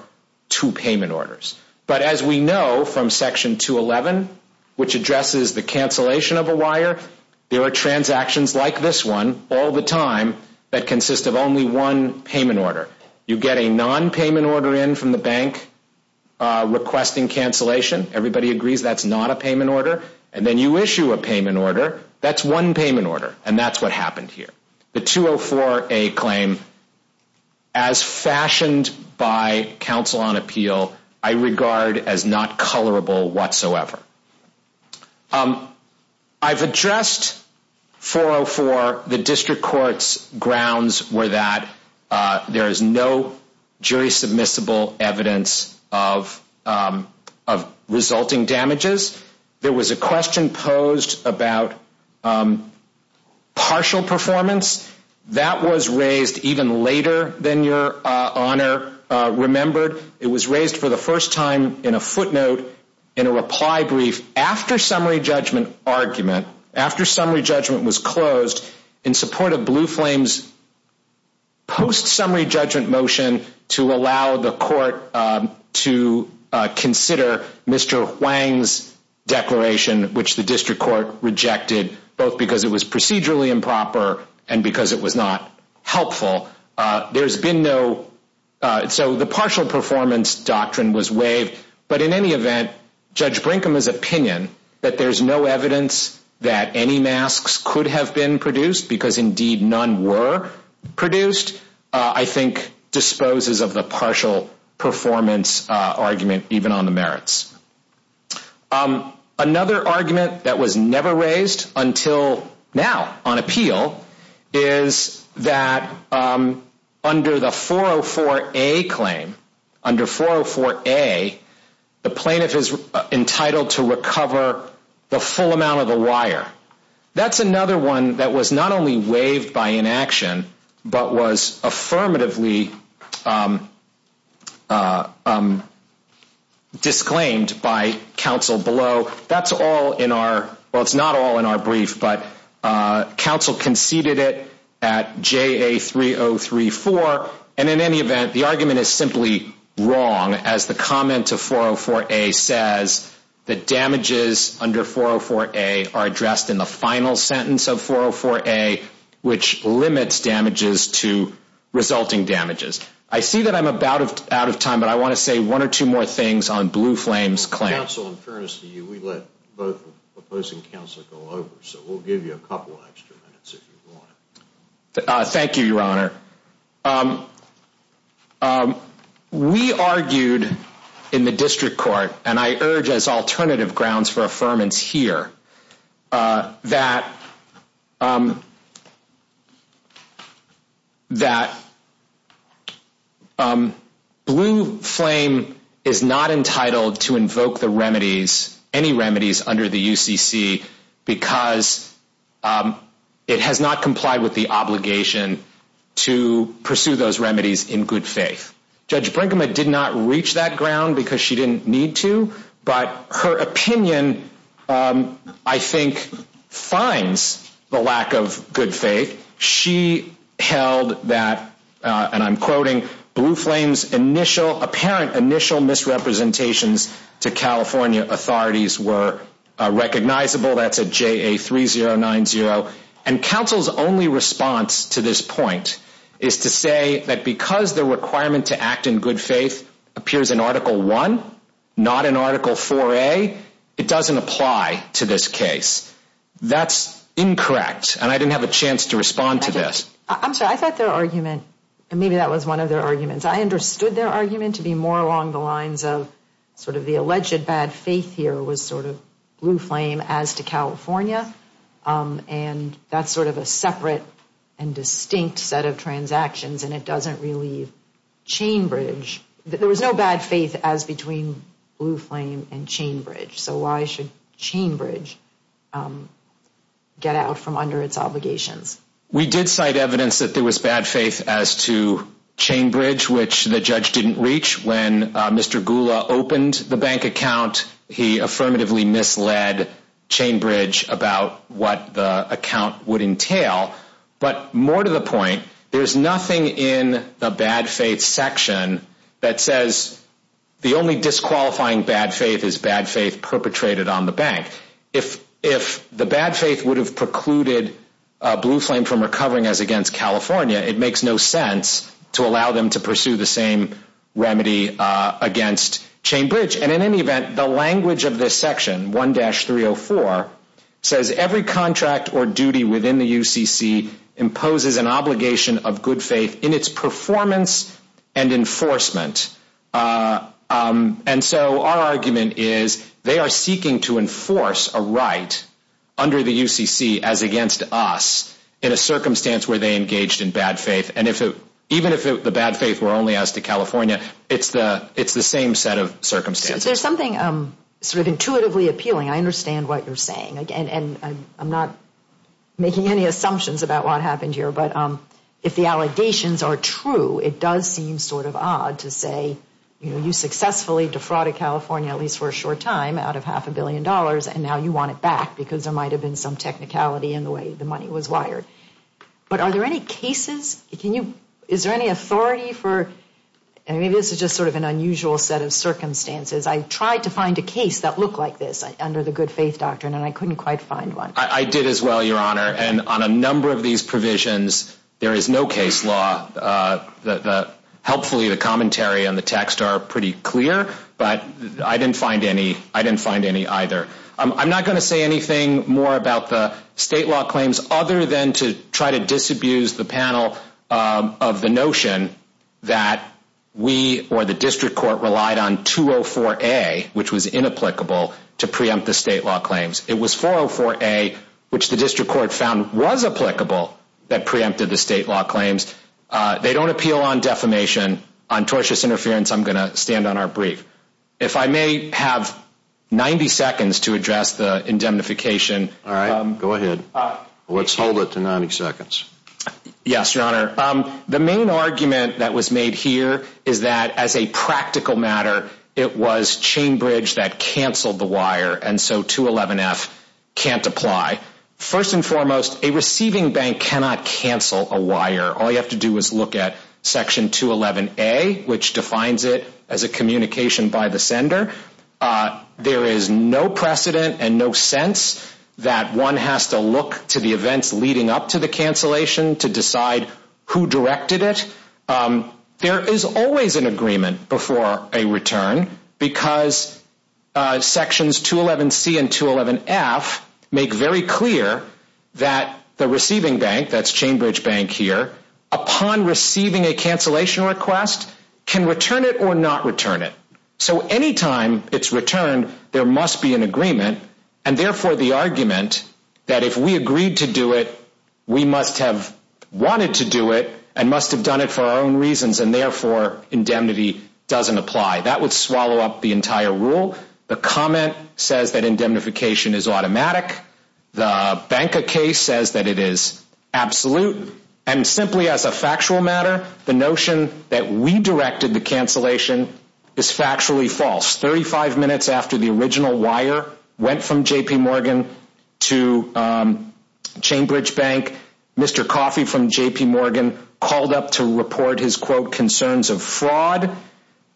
two payment orders. But as we know from Section 211, which addresses the cancellation of a wire, there are transactions like this one, all the time, that consist of only one payment order. You get a non-payment order in from the bank requesting cancellation. Everybody agrees that's not a payment order. And then you issue a payment order. That's one payment order, and that's what happened here. The 204A claim, as fashioned by counsel on appeal, I regard as not colorable whatsoever. I've addressed 404. The district court's grounds were that there is no jury-submissible evidence of resulting damages. There was a question posed about partial performance. That was raised even later than Your Honor remembered. It was raised for the first time in a footnote in a reply brief after summary judgment argument, after summary judgment was closed in support of Blue Flame's post-summary judgment motion to allow the court to consider Mr. Huang's declaration, which the district court rejected, both because it was procedurally improper and because it was not helpful. So the partial performance doctrine was waived. But in any event, Judge Brinkham's opinion that there's no evidence that any masks could have been produced because, indeed, none were produced, I think disposes of the partial performance argument, even on the merits. Another argument that was never raised until now on appeal is that under the 404A claim, under 404A, the plaintiff is entitled to recover the full amount of the wire. That's another one that was not only waived by inaction but was affirmatively disclaimed by counsel below. That's all in our – well, it's not all in our brief, but counsel conceded it at JA3034. And in any event, the argument is simply wrong as the comment to 404A says that damages under 404A are addressed in the final sentence of 404A, which limits damages to resulting damages. I see that I'm about out of time, but I want to say one or two more things on Blue Flame's claim. Counsel, in fairness to you, we let both the opposing counsel go over, so we'll give you a couple extra minutes if you want. Thank you, Your Honor. We argued in the district court, and I urge as alternative grounds for affirmance here, that Blue Flame is not entitled to invoke the remedies, any remedies under the UCC, because it has not complied with the obligation to pursue those remedies in good faith. Judge Brinkman did not reach that ground because she didn't need to, but her opinion, I think, finds the lack of good faith. She held that, and I'm quoting, Blue Flame's apparent initial misrepresentations to California authorities were recognizable. That's at JA3090. Counsel's only response to this point is to say that because the requirement to act in good faith appears in Article I, not in Article 4A, it doesn't apply to this case. That's incorrect, and I didn't have a chance to respond to this. I'm sorry, I thought their argument, and maybe that was one of their arguments, I understood their argument to be more along the lines of sort of the alleged bad faith here was sort of Blue Flame as to California, and that's sort of a separate and distinct set of transactions, and it doesn't really chain bridge. There was no bad faith as between Blue Flame and chain bridge, so why should chain bridge get out from under its obligations? We did cite evidence that there was bad faith as to chain bridge, which the judge didn't reach. When Mr. Gula opened the bank account, he affirmatively misled chain bridge about what the account would entail, but more to the point, there's nothing in the bad faith section that says the only disqualifying bad faith is bad faith perpetrated on the bank. If the bad faith would have precluded Blue Flame from recovering as against California, it makes no sense to allow them to pursue the same remedy against chain bridge, and in any event, the language of this section, 1-304, says every contract or duty within the UCC imposes an obligation of good faith in its performance and enforcement, and so our argument is they are seeking to enforce a right under the UCC as against us in a circumstance where they engaged in bad faith, and even if the bad faith were only as to California, it's the same set of circumstances. Is there something sort of intuitively appealing? I understand what you're saying, and I'm not making any assumptions about what happened here, but if the allegations are true, it does seem sort of odd to say you successfully defrauded California, at least for a short time, out of half a billion dollars, and now you want it back because there might have been some technicality in the way the money was wired, but are there any cases? Is there any authority for, and maybe this is just sort of an unusual set of circumstances. I tried to find a case that looked like this under the good faith doctrine, and I couldn't quite find one. I did as well, Your Honor, and on a number of these provisions, there is no case law. Helpfully, the commentary and the text are pretty clear, but I didn't find any either. I'm not going to say anything more about the state law claims other than to try to disabuse the panel of the notion that we or the district court relied on 204A, which was inapplicable, to preempt the state law claims. It was 404A, which the district court found was applicable, that preempted the state law claims. They don't appeal on defamation. On tortious interference, I'm going to stand on our brief. If I may have 90 seconds to address the indemnification. All right. Go ahead. Let's hold it to 90 seconds. Yes, Your Honor. The main argument that was made here is that as a practical matter, it was Chainbridge that canceled the wire, and so 211F can't apply. First and foremost, a receiving bank cannot cancel a wire. All you have to do is look at Section 211A, which defines it as a communication by the sender. There is no precedent and no sense that one has to look to the events leading up to the cancellation to decide who directed it. There is always an agreement before a return because Sections 211C and 211F make very clear that the receiving bank, that's Chainbridge Bank here, upon receiving a cancellation request, can return it or not return it. So anytime it's returned, there must be an agreement, and therefore the argument that if we agreed to do it, we must have wanted to do it and must have done it for our own reasons, and therefore indemnity doesn't apply. That would swallow up the entire rule. The comment says that indemnification is automatic. The Banca case says that it is absolute, and simply as a factual matter, the notion that we directed the cancellation is factually false. Thirty-five minutes after the original wire went from JP Morgan to Chainbridge Bank, Mr. Coffey from JP Morgan called up to report his, quote, concerns of fraud.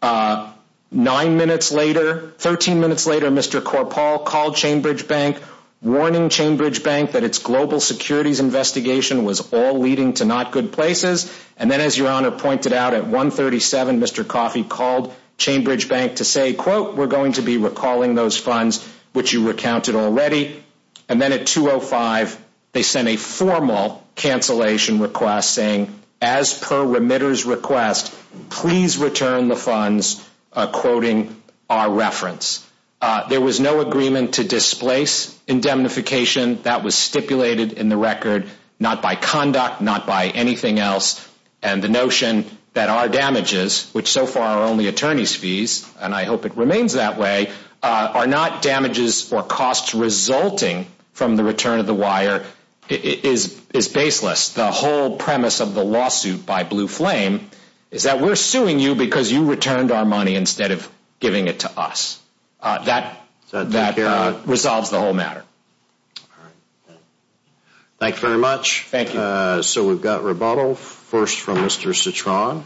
Nine minutes later, 13 minutes later, Mr. Korpal called Chainbridge Bank, warning Chainbridge Bank that its global securities investigation was all leading to not good places. And then as Your Honor pointed out, at 1.37, Mr. Coffey called Chainbridge Bank to say, quote, we're going to be recalling those funds which you recounted already. And then at 2.05, they sent a formal cancellation request saying, as per remitter's request, please return the funds, quoting our reference. There was no agreement to displace indemnification. That was stipulated in the record, not by conduct, not by anything else. And the notion that our damages, which so far are only attorney's fees, and I hope it remains that way, are not damages or costs resulting from the return of the wire, is baseless. The whole premise of the lawsuit by Blue Flame is that we're suing you because you returned our money instead of giving it to us. That resolves the whole matter. Thank you very much. Thank you. So we've got rebuttal. First from Mr. Citron.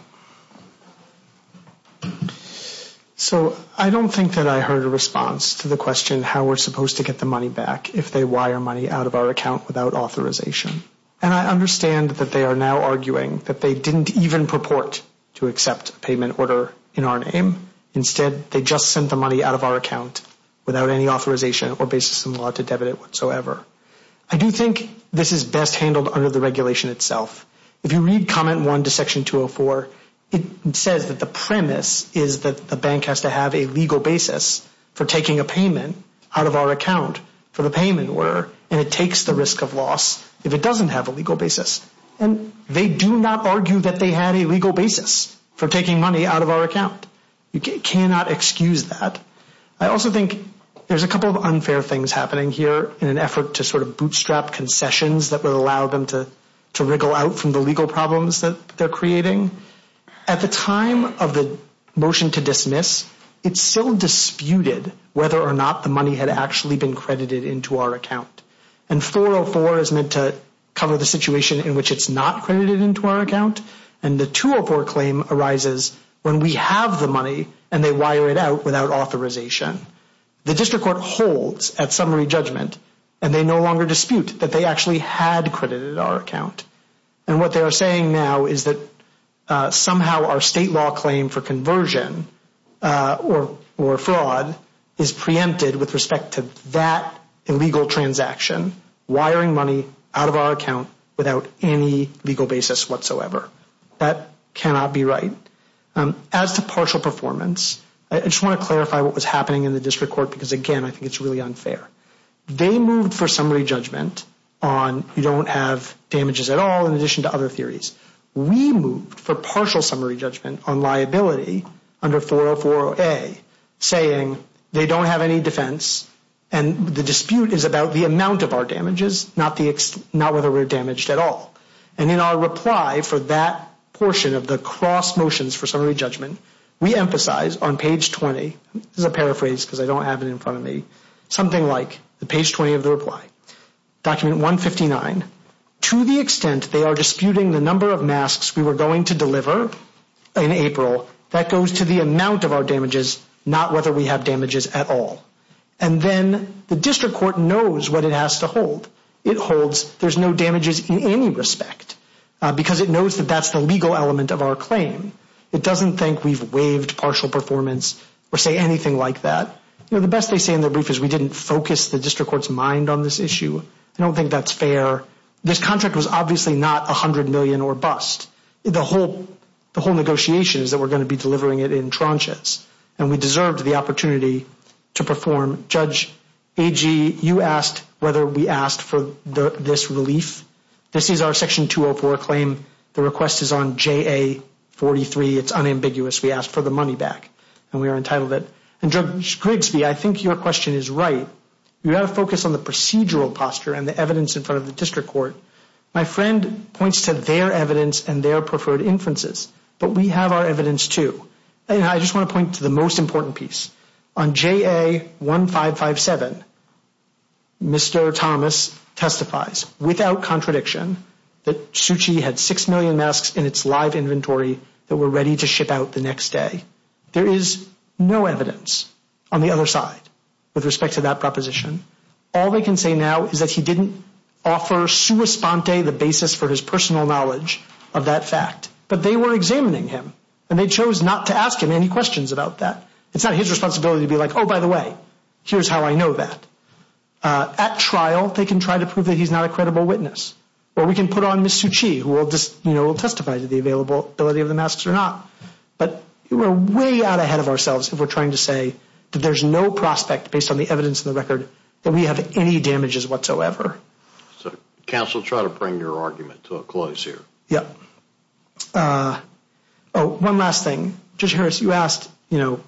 So I don't think that I heard a response to the question how we're supposed to get the money back if they wire money out of our account without authorization. And I understand that they are now arguing that they didn't even purport to accept a payment order in our name. Instead, they just sent the money out of our account without any authorization or basis in law to debit it whatsoever. I do think this is best handled under the regulation itself. If you read Comment 1 to Section 204, it says that the premise is that the bank has to have a legal basis for taking a payment out of our account for the payment order, and it takes the risk of loss if it doesn't have a legal basis. And they do not argue that they had a legal basis for taking money out of our account. You cannot excuse that. I also think there's a couple of unfair things happening here in an effort to sort of bootstrap concessions that would allow them to wriggle out from the legal problems that they're creating. At the time of the motion to dismiss, it's still disputed whether or not the money had actually been credited into our account. And 404 is meant to cover the situation in which it's not credited into our account. And the 204 claim arises when we have the money, and they wire it out without authorization. The district court holds at summary judgment, and they no longer dispute that they actually had credited our account. And what they are saying now is that somehow our state law claim for conversion or fraud is preempted with respect to that illegal transaction, wiring money out of our account without any legal basis whatsoever. That cannot be right. As to partial performance, I just want to clarify what was happening in the district court because, again, I think it's really unfair. They moved for summary judgment on you don't have damages at all in addition to other theories. We moved for partial summary judgment on liability under 404A, saying they don't have any defense, and the dispute is about the amount of our damages, not whether we're damaged at all. And in our reply for that portion of the cross motions for summary judgment, we emphasize on page 20, this is a paraphrase because I don't have it in front of me, something like the page 20 of the reply, document 159, to the extent they are disputing the number of masks we were going to deliver in April, that goes to the amount of our damages, not whether we have damages at all. And then the district court knows what it has to hold. It holds there's no damages in any respect because it knows that that's the legal element of our claim. It doesn't think we've waived partial performance or say anything like that. You know, the best they say in their brief is we didn't focus the district court's mind on this issue. I don't think that's fair. This contract was obviously not $100 million or bust. The whole negotiation is that we're going to be delivering it in tranches, and we deserved the opportunity to perform. Judge Agee, you asked whether we asked for this relief. This is our Section 204 claim. The request is on JA-43. It's unambiguous. We asked for the money back, and we are entitled it. And Judge Grigsby, I think your question is right. You've got to focus on the procedural posture and the evidence in front of the district court. My friend points to their evidence and their preferred inferences, but we have our evidence too. And I just want to point to the most important piece. On JA-1557, Mr. Thomas testifies without contradiction that Suchi had 6 million masks in its live inventory that were ready to ship out the next day. There is no evidence on the other side with respect to that proposition. All they can say now is that he didn't offer sua sponte, the basis for his personal knowledge of that fact. But they were examining him, and they chose not to ask him any questions about that. It's not his responsibility to be like, oh, by the way, here's how I know that. At trial, they can try to prove that he's not a credible witness. Or we can put on Ms. Suchi, who will testify to the availability of the masks or not. But we're way out ahead of ourselves if we're trying to say that there's no prospect, based on the evidence in the record, that we have any damages whatsoever. So counsel, try to bring your argument to a close here. Yeah. Oh, one last thing. Judge Harris, you asked, you know,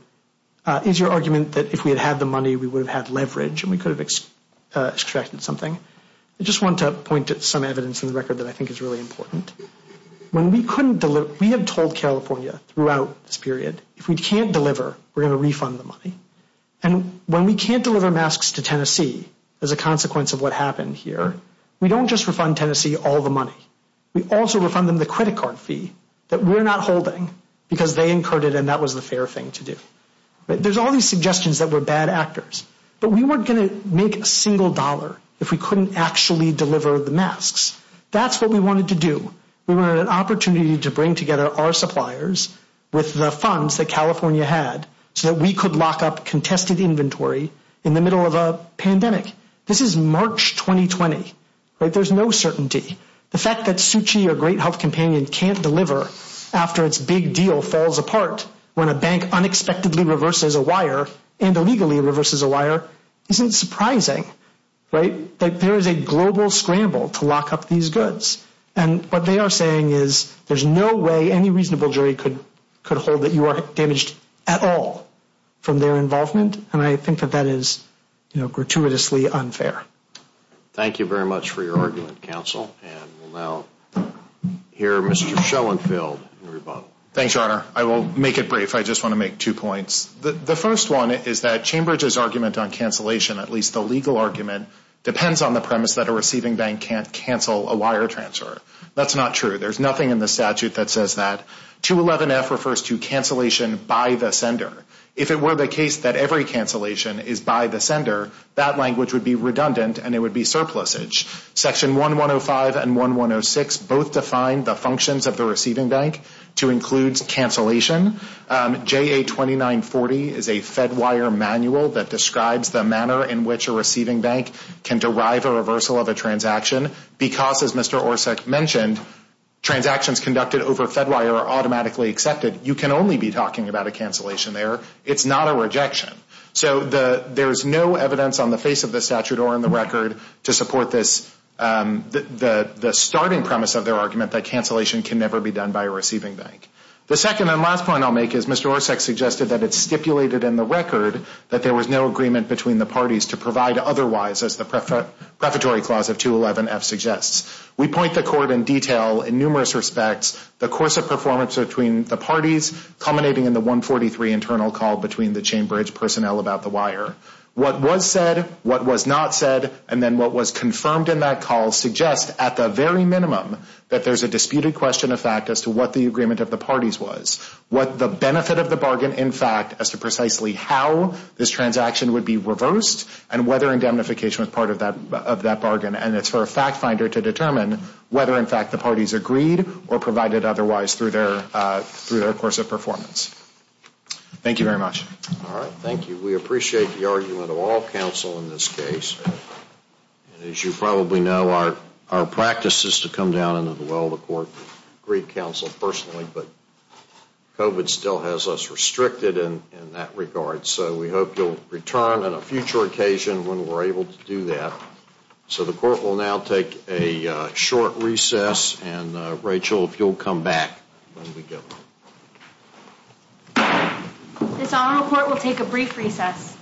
is your argument that if we had had the money, we would have had leverage and we could have extracted something? I just want to point to some evidence in the record that I think is really important. When we couldn't deliver, we have told California throughout this period, if we can't deliver, we're going to refund the money. And when we can't deliver masks to Tennessee as a consequence of what happened here, we don't just refund Tennessee all the money. We also refund them the credit card fee that we're not holding because they incurred it and that was the fair thing to do. There's all these suggestions that we're bad actors, but we weren't going to make a single dollar if we couldn't actually deliver the masks. That's what we wanted to do. We wanted an opportunity to bring together our suppliers with the funds that California had so that we could lock up contested inventory in the middle of a pandemic. This is March 2020. There's no certainty. The fact that Suchi, our great health companion, can't deliver after its big deal falls apart when a bank unexpectedly reverses a wire and illegally reverses a wire isn't surprising. Right? There is a global scramble to lock up these goods. And what they are saying is there's no way any reasonable jury could hold that you are damaged at all from their involvement. And I think that that is, you know, gratuitously unfair. Thank you very much for your argument, counsel. And we'll now hear Mr. Schoenfeld in rebuttal. Thanks, Your Honor. I will make it brief. I just want to make two points. The first one is that Chambridge's argument on cancellation, at least the legal argument, depends on the premise that a receiving bank can't cancel a wire transfer. That's not true. There's nothing in the statute that says that. 211F refers to cancellation by the sender. If it were the case that every cancellation is by the sender, that language would be redundant and it would be surplusage. Section 1105 and 1106 both define the functions of the receiving bank to include cancellation. JA 2940 is a Fedwire manual that describes the manner in which a receiving bank can derive a reversal of a transaction because, as Mr. Orsak mentioned, transactions conducted over Fedwire are automatically accepted. You can only be talking about a cancellation there. It's not a rejection. So there's no evidence on the face of the statute or in the record to support the starting premise of their argument that cancellation can never be done by a receiving bank. The second and last point I'll make is Mr. Orsak suggested that it's stipulated in the record that there was no agreement between the parties to provide otherwise, as the Prefatory Clause of 211F suggests. We point the court in detail in numerous respects, the course of performance between the parties culminating in the 143 internal call between the Chambridge personnel about the wire. What was said, what was not said, and then what was confirmed in that call suggests, at the very minimum, that there's a disputed question of fact as to what the agreement of the parties was. What the benefit of the bargain, in fact, as to precisely how this transaction would be reversed and whether indemnification was part of that bargain. And it's for a fact finder to determine whether, in fact, the parties agreed or provided otherwise through their course of performance. Thank you very much. All right, thank you. We appreciate the argument of all counsel in this case. And as you probably know, our practice is to come down into the well of the court and greet counsel personally. But COVID still has us restricted in that regard. So we hope you'll return on a future occasion when we're able to do that. So the court will now take a short recess. And, Rachel, if you'll come back when we get there. This honorable court will take a brief recess.